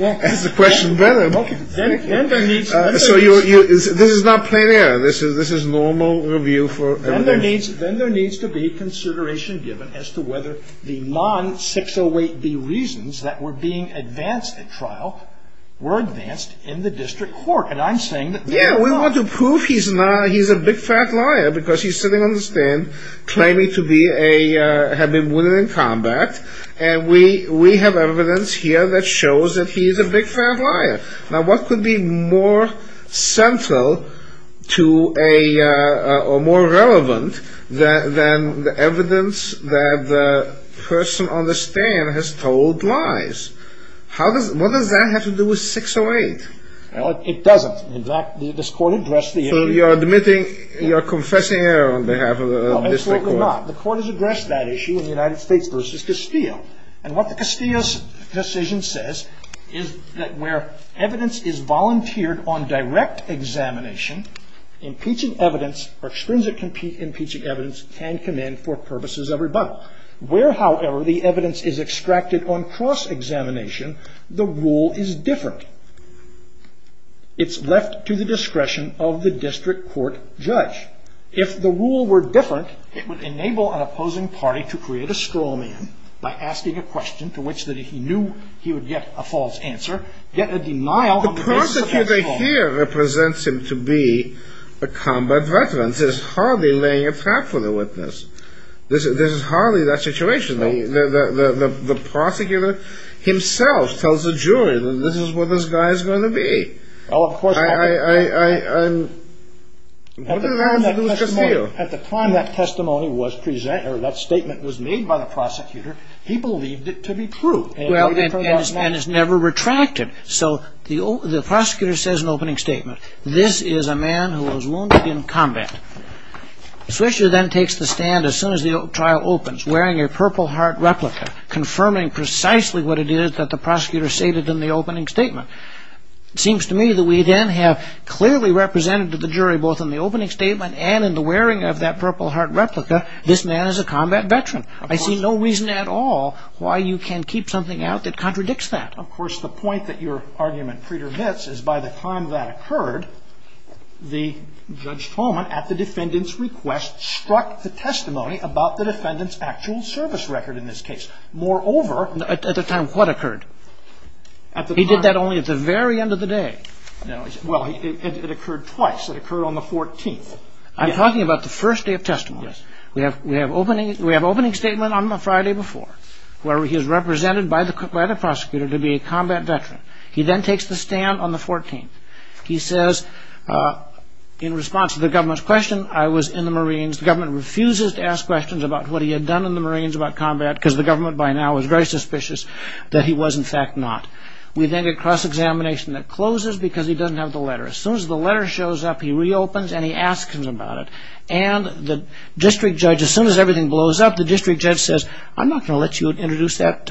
ask the question better. So, this is not plain error. This is normal review for everybody. Then there needs to be consideration given as to whether the non-608B reasons that were being advanced at trial were advanced in the district court. Yeah, we want to prove he's a big fat liar because he's sitting on the stand claiming to have been wounded in combat. And we have evidence here that shows that he's a big fat liar. Now, what could be more central or more relevant than the evidence that the person on the stand has told lies? What does that have to do with 608? Well, it doesn't. In fact, this court addressed the issue. So, you're admitting, you're confessing error on behalf of the district court? No, absolutely not. The court has addressed that issue in the United States versus Castillo. And what Castillo's decision says is that where evidence is volunteered on direct examination, impeaching evidence or extrinsic impeaching evidence can come in for purposes of rebuttal. Where, however, the evidence is extracted on cross-examination, the rule is different. It's left to the discretion of the district court judge. If the rule were different, it would enable an opposing party to create a straw man by asking a question to which he knew he would get a false answer. Yet a denial of the evidence... The prosecutor here represents him to be a combat veteran. This is hardly laying a trap for the witness. This is hardly that situation. The prosecutor himself tells the jury that this is what this guy is going to be. At the time that testimony was presented, or that statement was made by the prosecutor, he believed it to be true. And it's never retracted. So, the prosecutor says an opening statement. This is a man who was wounded in combat. Swisher then takes the stand as soon as the trial opens, wearing a Purple Heart replica, confirming precisely what it is that the prosecutor stated in the opening statement. It seems to me that we then have clearly represented to the jury, both in the opening statement and in the wearing of that Purple Heart replica, this man is a combat veteran. I see no reason at all why you can't keep something out that contradicts that. Of course, the point that your argument predominates is by the time that occurred, Judge Coleman, at the defendant's request, struck the testimony about the defendant's actual service record in this case. Moreover... At the time what occurred? He did that only at the very end of the day. Well, it occurred twice. It occurred on the 14th. I'm talking about the first day of testimony. Yes. We have an opening statement on the Friday before, where he is represented by the prosecutor to be a combat veteran. He then takes the stand on the 14th. He says, in response to the government's question, I was in the Marines. The government refuses to ask questions about what he had done in the Marines about combat because the government by now is very suspicious that he was in fact not. We then get cross-examination that closes because he doesn't have the letter. As soon as the letter shows up, he reopens and he asks him about it. And the district judge, as soon as everything blows up, the district judge says, I'm not going to let you introduce that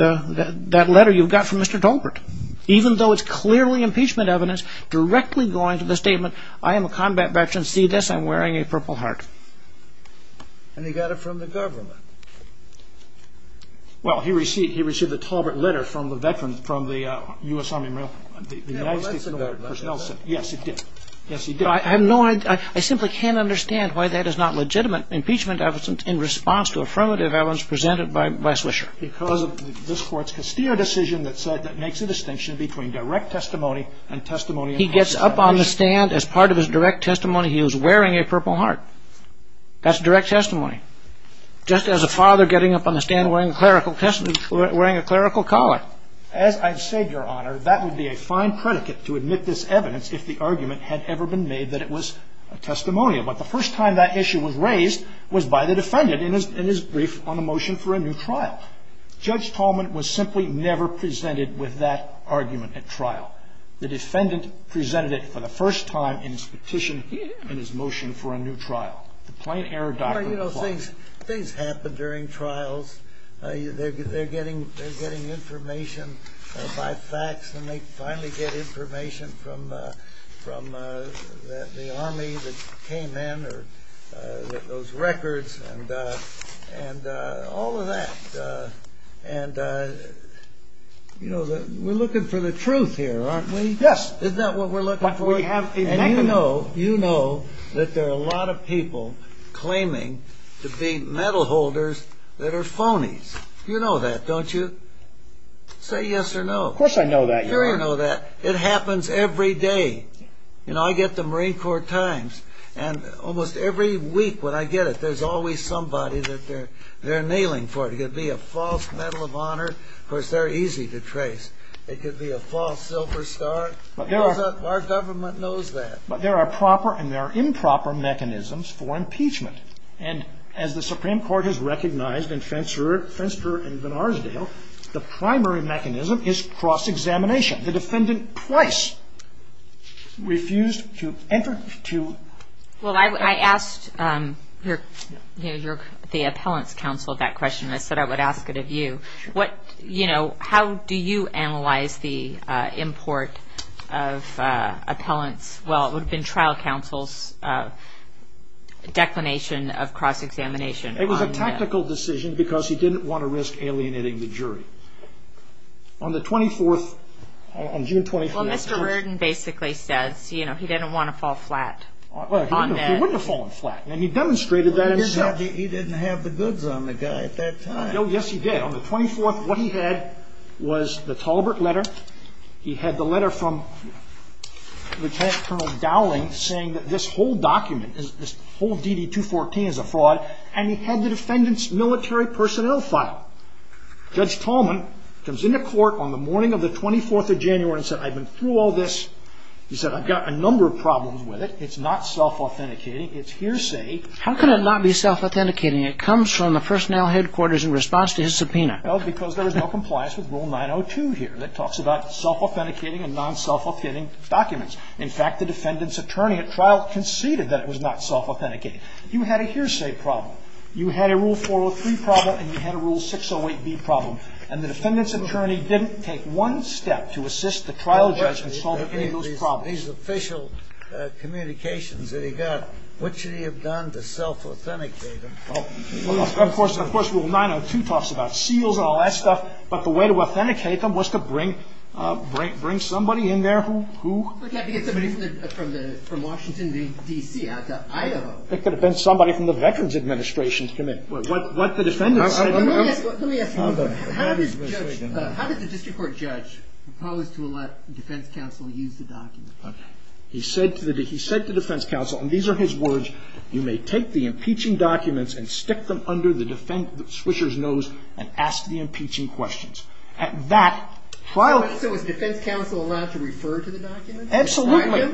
letter you got from Mr. Tolbert. Even though it's clearly impeachment evidence, directly going to the statement, I am a combat veteran. See this? I'm wearing a purple heart. And he got it from the government. Well, he received the Tolbert letter from the veterans from the U.S. Army. Yes, he did. I have no idea. I simply can't understand why that is not legitimate impeachment evidence in response to affirmative evidence presented by Swisher. Because this court's decision that makes a distinction between direct testimony and testimony. He gets up on the stand as part of his direct testimony. He was wearing a purple heart. That's direct testimony. Just as a father getting up on the stand wearing a clerical collar. As I've said, Your Honor, that would be a fine predicate to admit this evidence if the argument had ever been made that it was a testimonial. But the first time that issue was raised was by the defendant in his brief on a motion for a new trial. Judge Tolbert was simply never presented with that argument at trial. The defendant presented it for the first time in his petition in his motion for a new trial. But, you know, things happen during trials. They're getting information by fax and they finally get information from the Army that came in or those records and all of that. And, you know, we're looking for the truth here, aren't we? Yes. Isn't that what we're looking for? And you know that there are a lot of people claiming to be medal holders that are phonies. You know that, don't you? Say yes or no. Of course I know that, Your Honor. Sure you know that. It happens every day. You know, I get the Marine Corps Times and almost every week when I get it, there's always somebody that they're nailing for it. It could be a false medal of honor. Of course, they're easy to trace. It could be a false Silver Star. Our government knows that. But there are proper and there are improper mechanisms for impeachment. And as the Supreme Court has recognized in Fenster and Vannarsdale, the primary mechanism is cross-examination. The defendant twice refused to enter to- Well, I asked the appellant's counsel that question. I said I would ask it of you. You know, how do you analyze the import of appellants? Well, it would have been trial counsel's declination of cross-examination. It was a tactical decision because he didn't want to risk alienating the jury. On the 24th, on June 24th- Well, Mr. Worden basically said, you know, he didn't want to fall flat on that. He wouldn't have fallen flat. And he demonstrated that. He didn't have the goods on the guy at that time. Oh, yes, he did. On the 24th, what he had was the Talbert letter. He had the letter from Lieutenant Colonel Dowling saying that this whole document, this whole DD-214 is a fraud. And he had the defendant's military personnel file. Judge Coleman comes into court on the morning of the 24th of January and said, I've been through all this. He said, I've got a number of problems with it. It's not self-authenticating. It's hearsay. How can it not be self-authenticating? It comes from the personnel headquarters in response to his subpoena. Well, because there is no compliance with Rule 902 here that talks about self-authenticating and non-self-authenticating documents. In fact, the defendant's attorney at trial conceded that it was not self-authenticating. You had a hearsay problem. You had a Rule 403 problem. And you had a Rule 608B problem. And the defendant's attorney didn't take one step to assist the trial judge in solving any of those problems. These official communications that he got, what should he have done to self-authenticate them? Of course, Rule 902 talks about seals and all that stuff. But the way to authenticate them was to bring somebody in there. Who? I have to get somebody from Washington, D.C. I don't know. It could have been somebody from the Veterans Administration's committee. Let me ask you something. How did the district court judge propose to let the defense counsel use the documents? Okay. He said to the defense counsel, and these are his words, you may take the impeaching documents and stick them under the switcher's nose and ask the impeaching questions. So was the defense counsel allowed to refer to the documents? Absolutely. Was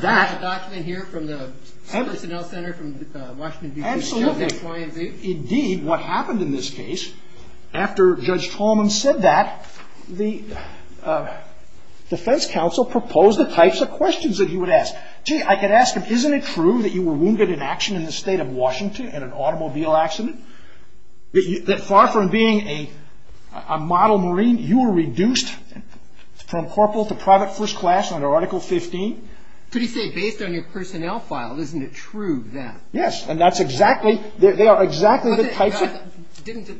there a document here from the Conell Center from Washington, D.C.? Absolutely. Indeed, what happened in this case, after Judge Tolman said that, the defense counsel proposed the types of questions that he would ask. Gee, I could ask him, isn't it true that you were wounded in action in the state of Washington in an automobile accident? That far from being a model Marine, you were reduced from corporal to private first class under Article 15? Could he say, based on your personnel file, isn't it true that? Yes. And that's exactly, they are exactly the types of-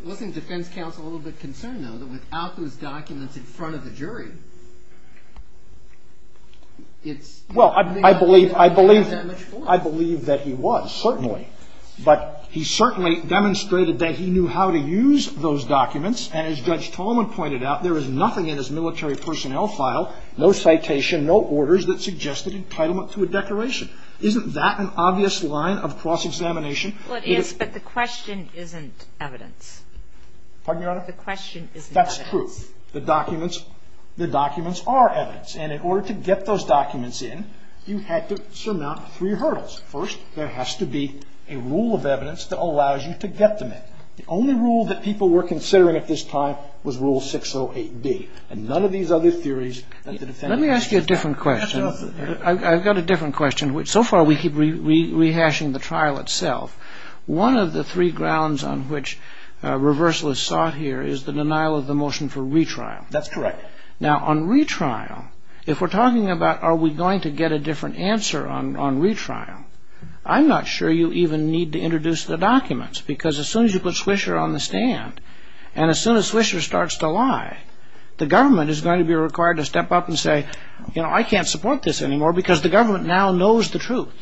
Wasn't the defense counsel a little bit concerned, though, that without those documents in front of the jury- Well, I believe that he was, certainly. But he certainly demonstrated that he knew how to use those documents, and as Judge Tolman pointed out, there is nothing in his military personnel file, no citation, no orders that suggested entitlement to a declaration. Isn't that an obvious line of cross-examination? Well, it is, but the question isn't evidence. Pardon me, Your Honor? The question isn't evidence. That's true. The documents are evidence. And in order to get those documents in, you had to surmount three hurdles. First, there has to be a rule of evidence that allows you to get them in. The only rule that people were considering at this time was Rule 608B. And none of these other theories- Let me ask you a different question. I've got a different question. So far, we keep rehashing the trial itself. One of the three grounds on which reversal is sought here is the denial of the motion for retrial. That's correct. Now, on retrial, if we're talking about are we going to get a different answer on retrial, I'm not sure you even need to introduce the documents, because as soon as you put Swisher on the stand, and as soon as Swisher starts to lie, the government is going to be required to step up and say, you know, I can't support this anymore because the government now knows the truth.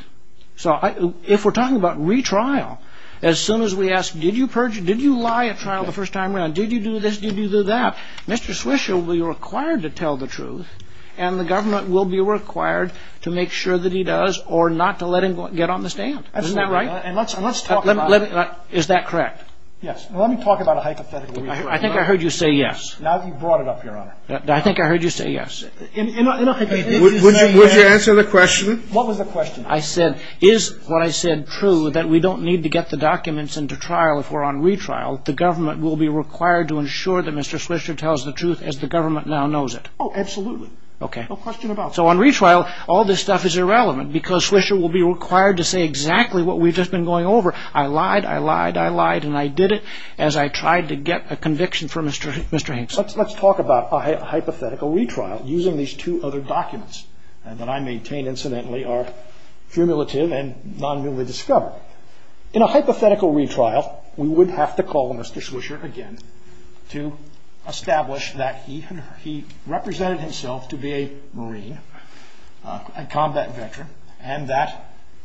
So if we're talking about retrial, as soon as we ask, did you lie at trial the first time around? Did you do this? Did you do that? Mr. Swisher will be required to tell the truth, and the government will be required to make sure that he does or not to let him get on the stand. Isn't that right? And let's talk about- Is that correct? Yes. Let me talk about it hypothetically. I think I heard you say yes. Now you've brought it up, Your Honor. I think I heard you say yes. Would you answer the question? What was the question? I said, is what I said true, that we don't need to get the documents into trial if we're on retrial? If we're on retrial, the government will be required to ensure that Mr. Swisher tells the truth as the government now knows it. Oh, absolutely. Okay. No question about it. So on retrial, all this stuff is irrelevant because Swisher will be required to say exactly what we've just been going over. I lied, I lied, I lied, and I did it as I tried to get a conviction from Mr. Hames. Let's talk about a hypothetical retrial using these two other documents that I maintain, incidentally, are cumulative and non-numerally discovered. In a hypothetical retrial, we would have to call Mr. Swisher again to establish that he represented himself to be a Marine, a combat veteran, and that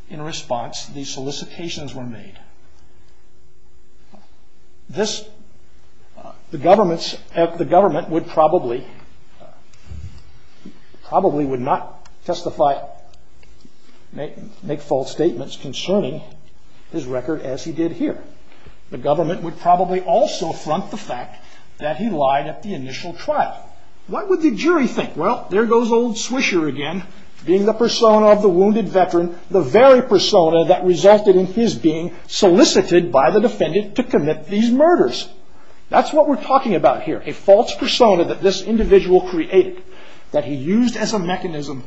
in response, these solicitations were made. The government would probably not testify, make false statements concerning his record as he did here. The government would probably also front the fact that he lied at the initial trial. What would the jury think? Well, there goes old Swisher again, being the persona of the wounded veteran, the very persona that resulted in his being solicited by the defendant to commit these murders. That's what we're talking about here, a false persona that this individual created, that he used as a mechanism.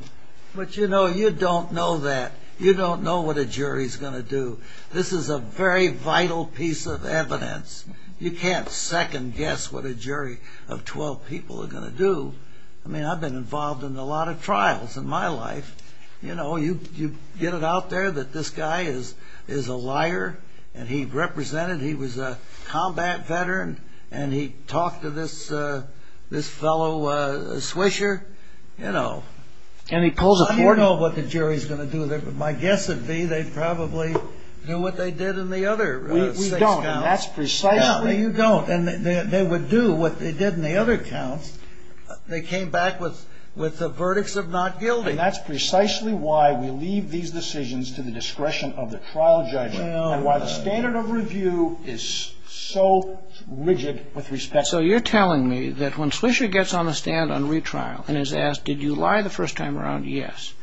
But, you know, you don't know that. You don't know what a jury's going to do. This is a very vital piece of evidence. You can't second guess what a jury of 12 people is going to do. I mean, I've been involved in a lot of trials in my life. You know, you get it out there that this guy is a liar, and he represented, he was a combat veteran, and he talked to this fellow Swisher, you know. And he pulls a cordon. I don't know what the jury's going to do. My guess would be they'd probably do what they did in the other six counts. We don't, and that's precisely... They came back with the verdicts of not guilty. And that's precisely why we leave these decisions to the discretion of the trial judge and why the standard of review is so rigid with respect to... So you're telling me that when Swisher gets on the stand on retrial and is asked, did you lie the first time around, yes.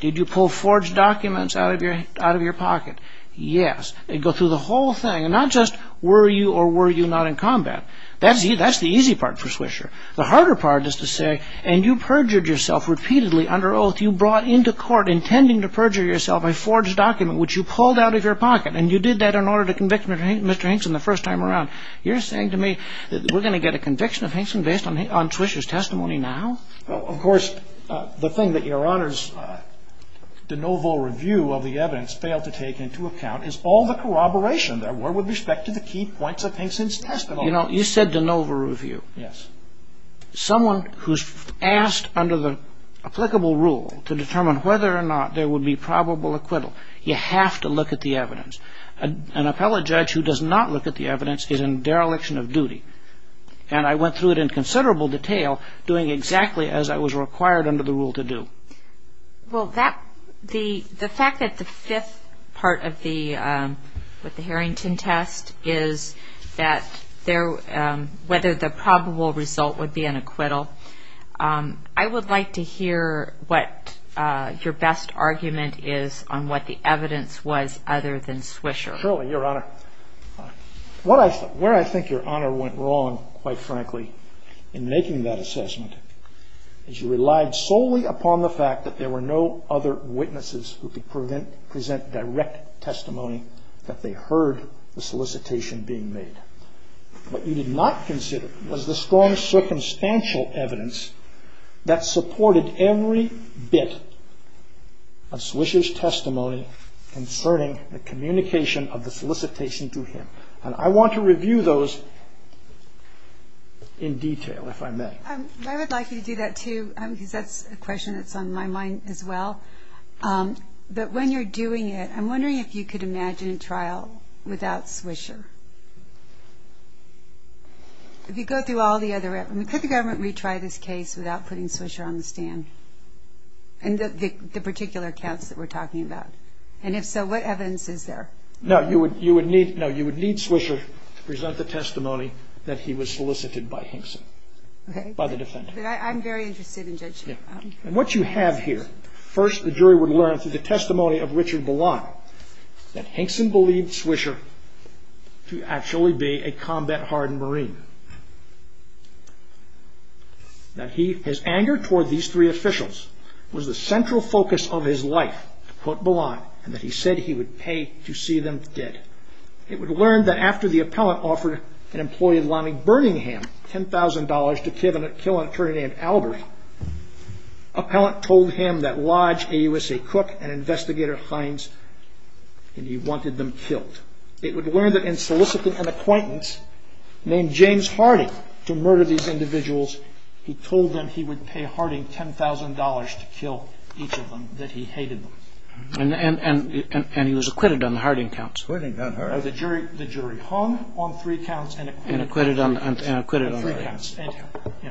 Did you pull forged documents out of your pocket? Yes. They go through the whole thing, not just were you or were you not in combat. That's the easy part for Swisher. The harder part is to say, and you perjured yourself repeatedly under oath. You brought into court intending to perjure yourself a forged document, which you pulled out of your pocket. And you did that in order to convict Mr. Hinkson the first time around. You're saying to me that we're going to get a conviction of Hinkson based on Swisher's testimony now? Well, of course, the thing that Your Honor's de novo review of the evidence failed to take into account is all the corroboration there were with respect to the key points of Hinkson's testimony. You said de novo review. Yes. Someone who's asked under the applicable rule to determine whether or not there would be probable acquittal, you have to look at the evidence. An appellate judge who does not look at the evidence is in dereliction of duty. And I went through it in considerable detail, doing exactly as I was required under the rule to do. Well, the fact that the fifth part of the Harrington test is whether the probable result would be an acquittal, I would like to hear what your best argument is on what the evidence was other than Swisher. Certainly, Your Honor. Where I think Your Honor went wrong, quite frankly, in making that assessment is you relied solely upon the fact that there were no other witnesses who could present direct testimony that they heard the solicitation being made. What you did not consider was the strong circumstantial evidence that supported every bit of Swisher's testimony concerning the communication of the solicitation to him. And I want to review those in detail, if I may. I would like you to do that, too, because that's a question that's on my mind as well. But when you're doing it, I'm wondering if you could imagine a trial without Swisher. Could the government retry this case without putting Swisher on the stand? In the particular test that we're talking about. And if so, what evidence is there? No, you would need Swisher to present the testimony that he was solicited by Hinson, by the defense. I'm very interested in judging. And what you have here. First, the jury would learn through the testimony of Richard Ballot that Hinson believed Swisher to actually be a combat-hardened Marine. That his anger toward these three officials was the central focus of his life, quote Ballot, and that he said he would pay to see them dead. It would learn that after the appellant offered an employee in London, Birmingham, $10,000 to kill an attorney named Albert, appellant told him that Lodge, AUSA Cook, and Investigator Hines, and he wanted them killed. It would learn that in soliciting an acquaintance named James Harding to murder these individuals, he told them he would pay Harding $10,000 to kill each of them that he hated. And he was acquitted on the Harding counts. The jury hung on three counts and acquitted on three counts.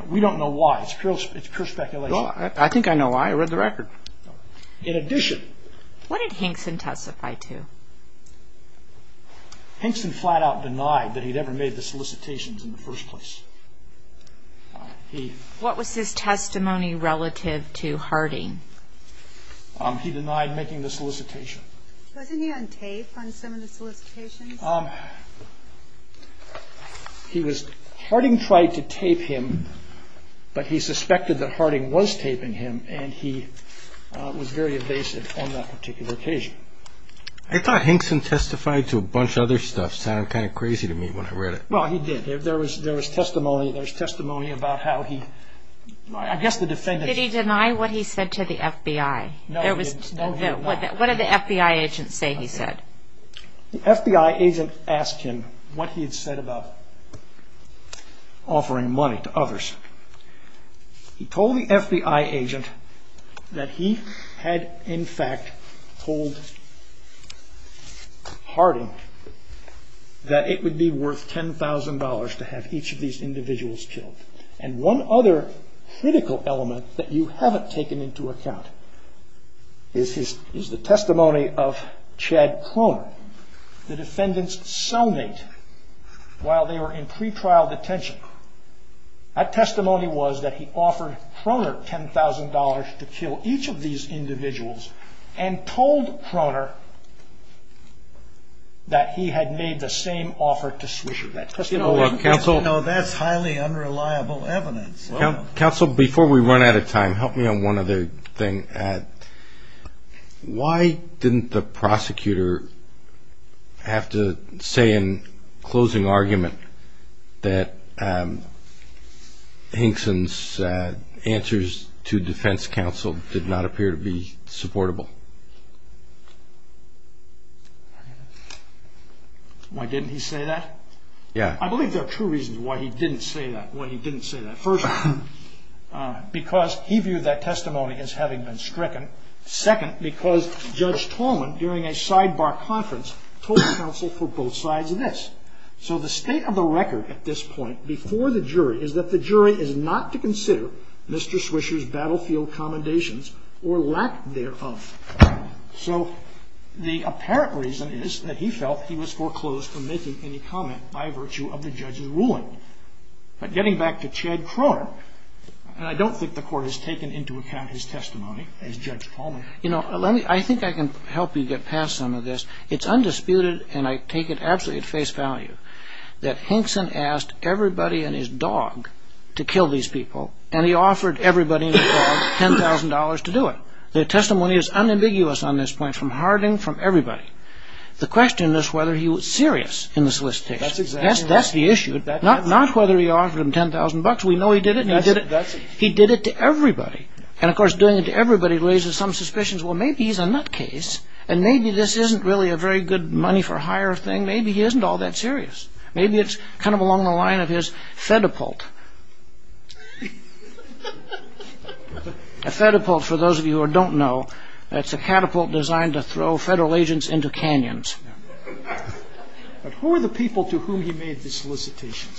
We don't know why. It's pure speculation. I think I know why. I read the record. In addition... What did Hinson testify to? Hinson flat out denied that he'd ever made the solicitations in the first place. What was his testimony relative to Harding? He denied making the solicitation. Wasn't he on tape on some of the solicitations? Harding tried to tape him, but he suspected that Harding was taping him, and he was very evasive on that particular occasion. I thought Hinson testified to a bunch of other stuff. It sounded kind of crazy to me when I read it. Well, he did. There was testimony. There was testimony about how he... Did he deny what he said to the FBI? No, he did not. What did the FBI agent say he said? The FBI agent asked him what he had said about offering money to others. He told the FBI agent that he had, in fact, told Harding that it would be worth $10,000 to have each of these individuals killed. And one other critical element that you haven't taken into account is the testimony of Chad Croner, the defendant's cellmate while they were in pretrial detention. That testimony was that he offered Croner $10,000 to kill each of these individuals and told Croner that he had made the same offer to Swisherbeck. That's highly unreliable evidence. Counsel, before we run out of time, help me on one other thing. Why didn't the prosecutor have to say in closing argument that Hinson's answers to defense counsel did not appear to be supportable? Why didn't he say that? I believe there are two reasons why he didn't say that. First, because he viewed that testimony as having been stricken. Second, because Judge Tormund, during a sidebar conference, told counsel for both sides of this. So the state of the record at this point before the jury is that the jury is not to consider Mr. Swisher's battlefield commendations or lack thereof. So the apparent reason is that he felt he was foreclosed from making any comment by virtue of the judge's ruling. But getting back to Chad Croner, I don't think the court has taken into account his testimony as Judge Tormund. You know, I think I can help you get past some of this. It's undisputed, and I take it absolutely at face value, that Hinson asked everybody and his dog to kill these people and he offered everybody and his dog $10,000 to do it. The testimony is unambiguous on this point, from Harding, from everybody. The question is whether he was serious in the solicitation. That's the issue. Not whether he offered him $10,000. We know he did it, and he did it to everybody. And, of course, doing it to everybody raises some suspicions. Well, maybe he's a nutcase, and maybe this isn't really a very good money-for-hire thing. Maybe he isn't all that serious. Maybe it's kind of along the line of his Fedapult. A Fedapult, for those of you who don't know, that's a catapult designed to throw federal agents into canyons. But who are the people to whom he made the solicitation?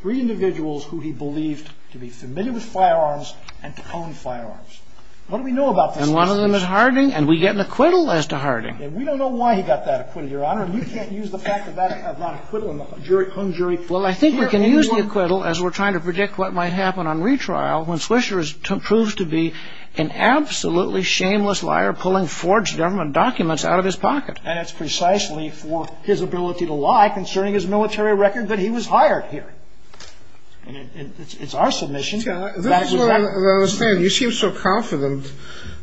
Three individuals who he believed to be familiar with firearms and to own firearms. What do we know about them? And one of them is Harding, and we get an acquittal as to Harding. You can't use the fact that that's not an acquittal. Well, I think we can use the acquittal as we're trying to predict what might happen on retrial when Swisher proves to be an absolutely shameless liar pulling forged government documents out of his pocket. And it's precisely for his ability to lie, concerning his military record, that he was hired here. It's our submission. You seem so confident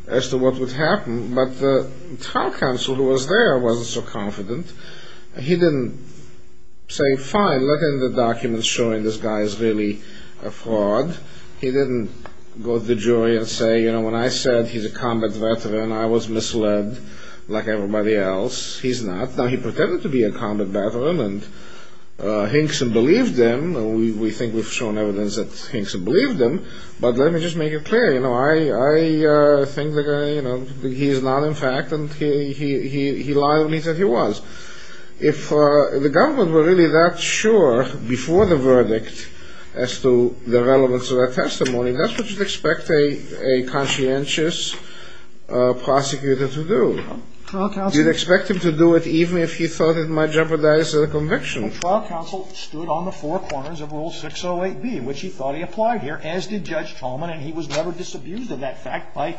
as to what would happen, but the trial counsel who was there wasn't so confident. He didn't say, fine, let in the documents showing this guy is really a fraud. He didn't go to the jury and say, you know, when I said he's a combat veteran, I was misled, like everybody else. He's not. Now, he pretended to be a combat veteran, and Hinkson believed him. We think we've shown evidence that Hinkson believed him. But let me just make it clear, you know, I think that he is not in fact, and he lied only because he was. If the government were really that sure, before the verdict, as to the relevance of that testimony, that's what you'd expect a conscientious prosecutor to do. You'd expect him to do it even if he thought it might jeopardize the conviction. The trial counsel stood on the four corners of Rule 608B, which he thought he applied here, as did Judge Tolman, and he was never disabused of that fact by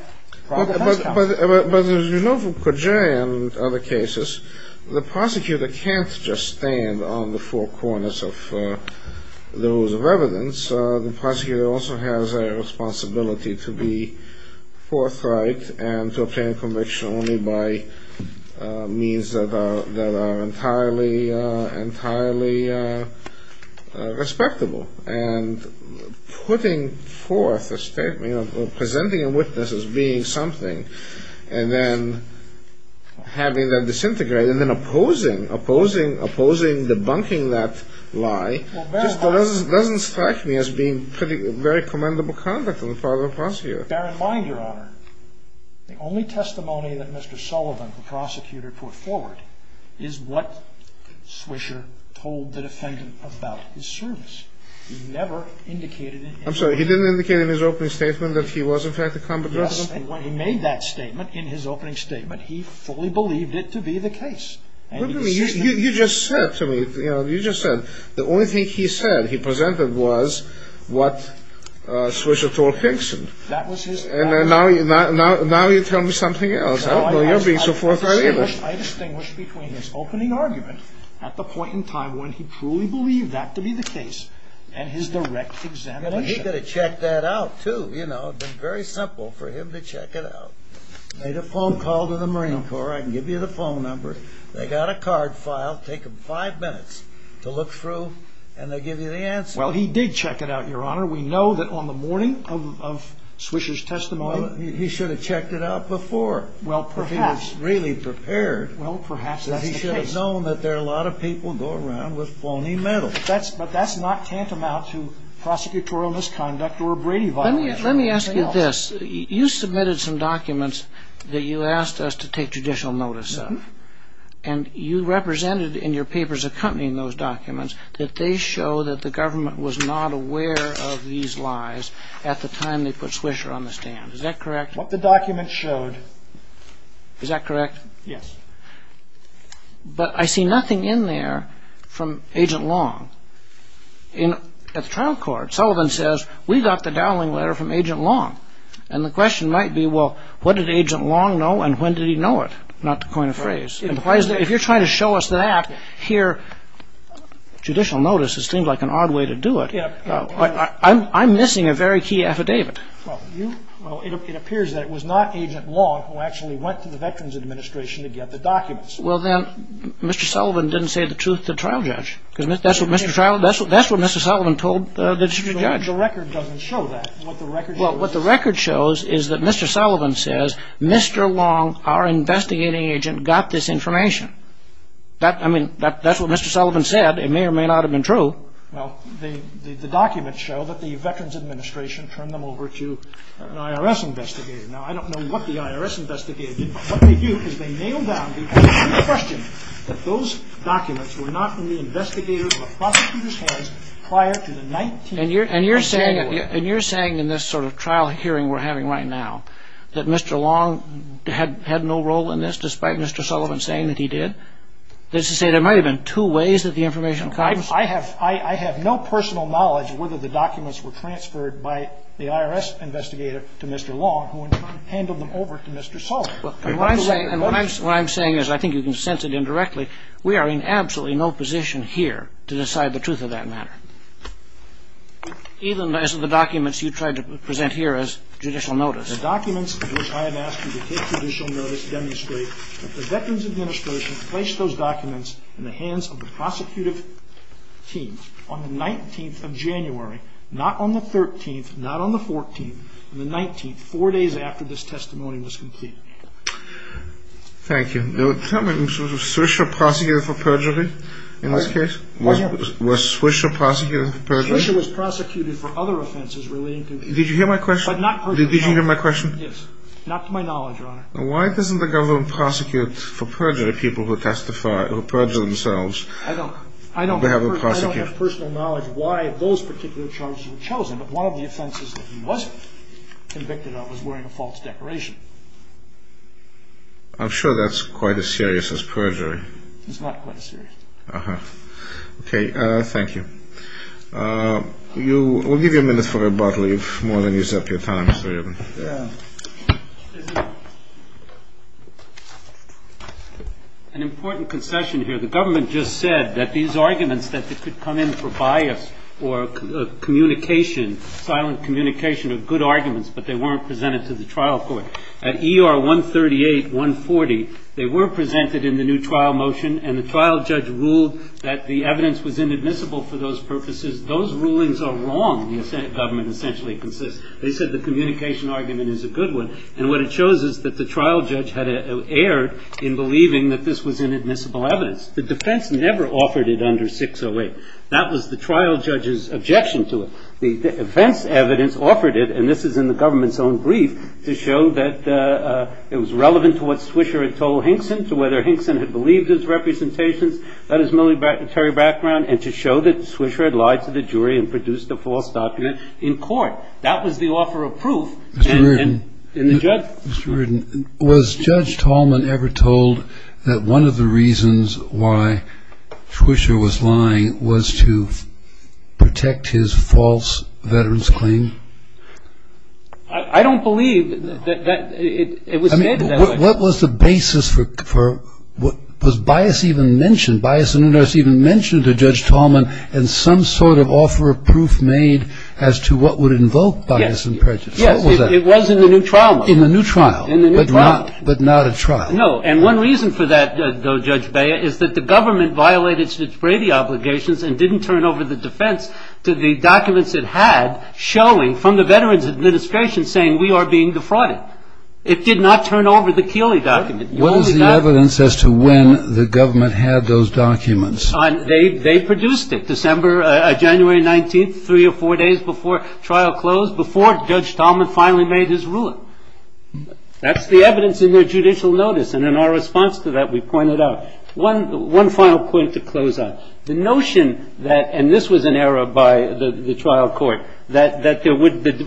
trial counsel. But as you know from progeria and other cases, the prosecutor can't just stand on the four corners of those irrelevance. The prosecutor also has a responsibility to be forthright and to obtain conviction only by means that are entirely respectable. And putting forth a statement, or presenting a witness as being something, and then having them disintegrate, and then opposing, opposing, opposing, debunking that lie, just doesn't strike me as being very commendable conduct of the father prosecutor. Bear in mind, Your Honor, the only testimony that Mr. Sullivan, the prosecutor, put forward is what Swisher told the defendant about his servants. He never indicated in his opening statement. I'm sorry, he didn't indicate in his opening statement that he was, in fact, a combatant? When he made that statement, in his opening statement, he fully believed it to be the case. You just said to me, you just said, the only thing he said, he presented, was what Swisher Thorpe thinks. And now you tell me something else. How can you be so forthright? I distinguish between his opening argument, at the point in time when he truly believed that to be the case, and his direct examination. And he could have checked that out, too, you know. It would have been very simple for him to check it out. Made a phone call to the Marine Corps, I can give you the phone number. They got a card file, take them five minutes to look through, and they give you the answer. Well, he did check it out, Your Honor. We know that on the morning of Swisher's testimony, he should have checked it out before. Well, perhaps. He was really prepared. Well, perhaps. That he should have known that there are a lot of people go around with phony methods. But that's not tantamount to prosecutorial misconduct or Brady violation. Let me ask you this. You submitted some documents that you asked us to take judicial notice of. And you represented in your papers accompanying those documents, that they show that the government was not aware of these lies at the time they put Swisher on the stand. Is that correct? What the documents showed. Is that correct? Yes. But I see nothing in there from Agent Long. In the trial court, Sullivan says, we got the dowling letter from Agent Long. And the question might be, well, what did Agent Long know and when did he know it? Not to coin a phrase. If you're trying to show us that here, judicial notice seems like an odd way to do it. I'm missing a very key affidavit. It appears that it was not Agent Long who actually went to the Veterans Administration to get the documents. Well, then, Mr. Sullivan didn't say the truth to the trial judge. That's what Mr. Sullivan told the judge. The record doesn't show that. What the record shows is that Mr. Sullivan says, Mr. Long, our investigating agent, got this information. That's what Mr. Sullivan said. It may or may not have been true. Well, the documents show that the Veterans Administration turned them over to an IRS investigator. Now, I don't know what the IRS investigator did. What they do is they nailed down the question that those documents were not in the investigators' or the prosecutors' hands prior to the 19th of January. And you're saying in this sort of trial hearing we're having right now that Mr. Long had no role in this, despite Mr. Sullivan saying that he did? Does he say there might have been two ways that the information comes? I have no personal knowledge of whether the documents were transferred by the IRS investigator to Mr. Long who handled them over to Mr. Sullivan. What I'm saying is, I think you can sense it indirectly, we are in absolutely no position here to decide the truth of that matter, even as the documents you tried to present here as judicial notice. The documents in which I have asked you to take judicial notice demonstrate that the Veterans Administration placed those documents in the hands of the prosecutive teams on the 19th of January, not on the 13th, not on the 14th, and the 19th, four days after this testimony was completed. Thank you. Now, tell me, was Swisher prosecuted for perjury in this case? Was Swisher prosecuted for perjury? Swisher was prosecuted for other offenses relating to the agency. Did you hear my question? Yes. Not to my knowledge, Your Honor. Why doesn't the government prosecute for perjury people who testify or perjure themselves? I don't have personal knowledge why those particular charges were chosen, but one of the offenses that he was convicted of was wearing a false decoration. I'm sure that's quite as serious as perjury. It's not quite as serious. Uh-huh. Okay, thank you. We'll give you a minute for your bottle, if more than you set your time. An important concession here. The government just said that these arguments that they could come in for bias or communication, silent communication of good arguments, but they weren't presented to the trial court. At ER 138-140, they were presented in the new trial motion, and the trial judge ruled that the evidence was inadmissible for those purposes. Those rulings are wrong, the government essentially concedes. They said the communication argument is a good one, and what it shows is that the trial judge had erred in believing that this was inadmissible evidence. The defense never offered it under 608. That was the trial judge's objection to it. The event evidence offered it, and this is in the government's own brief, to show that it was relevant to what Swisher had told Hinkson, to whether Hinkson had believed his representation. That is a military background, and to show that Swisher had lied to the jury and produced a false document in court. That was the offer of proof. Mr. Reardon, was Judge Tallman ever told that one of the reasons why Swisher was lying was to protect his false veteran's claim? I don't believe that it was made that way. What was the basis for what was Bias even mentioned? Was Bias even mentioned to Judge Tallman in some sort of offer of proof made as to what would invoke Bias and prejudice? Yes, it was in the new trial motion. In the new trial, but not a trial. No, and one reason for that, though, Judge Beyer, is that the government violated its Brady obligations and didn't turn over the defense to the documents it had showing from the Veterans Administration saying we are being defrauded. It did not turn over the Keeley documents. What is the evidence as to when the government had those documents? They produced it, December, January 19th, three or four days before trial closed, before Judge Tallman finally made his ruling. That's the evidence in their judicial notice, and in our response to that we pointed out. One final point to close on. The notion that, and this was an error by the trial court, that the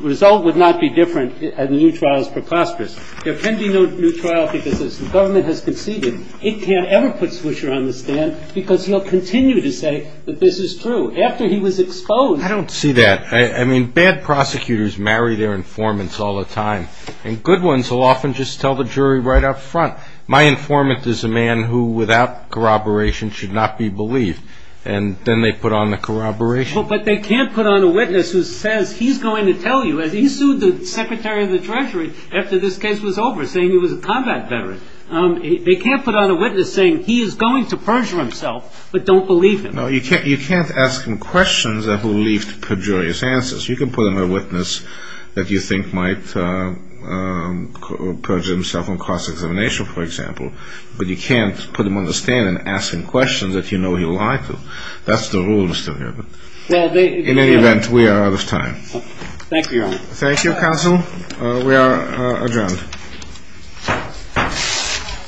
result would not be different in the new trials for Claspers. There can be no new trial because the government has conceded. It can't ever put Swisher on the stand because he'll continue to say that this is true after he was exposed. I don't see that. I mean, bad prosecutors marry their informants all the time, and good ones will often just tell the jury right up front. My informant is a man who, without corroboration, should not be believed, and then they put on the corroboration. But they can't put on a witness who says he's going to tell you. He sued the Secretary of the Treasury after this case was over, saying he was a combat veteran. They can't put on a witness saying he is going to perjure himself, but don't believe him. No, you can't ask him questions that will leave perjurious answers. You can put on a witness that you think might perjure himself on cross-examination, for example, but you can't put him on the stand and ask him questions that you know he'll lie to. That's the rule, Mr. Nuremberg. In any event, we are out of time. Thank you, Your Honor. Thank you, counsel. We are adjourned.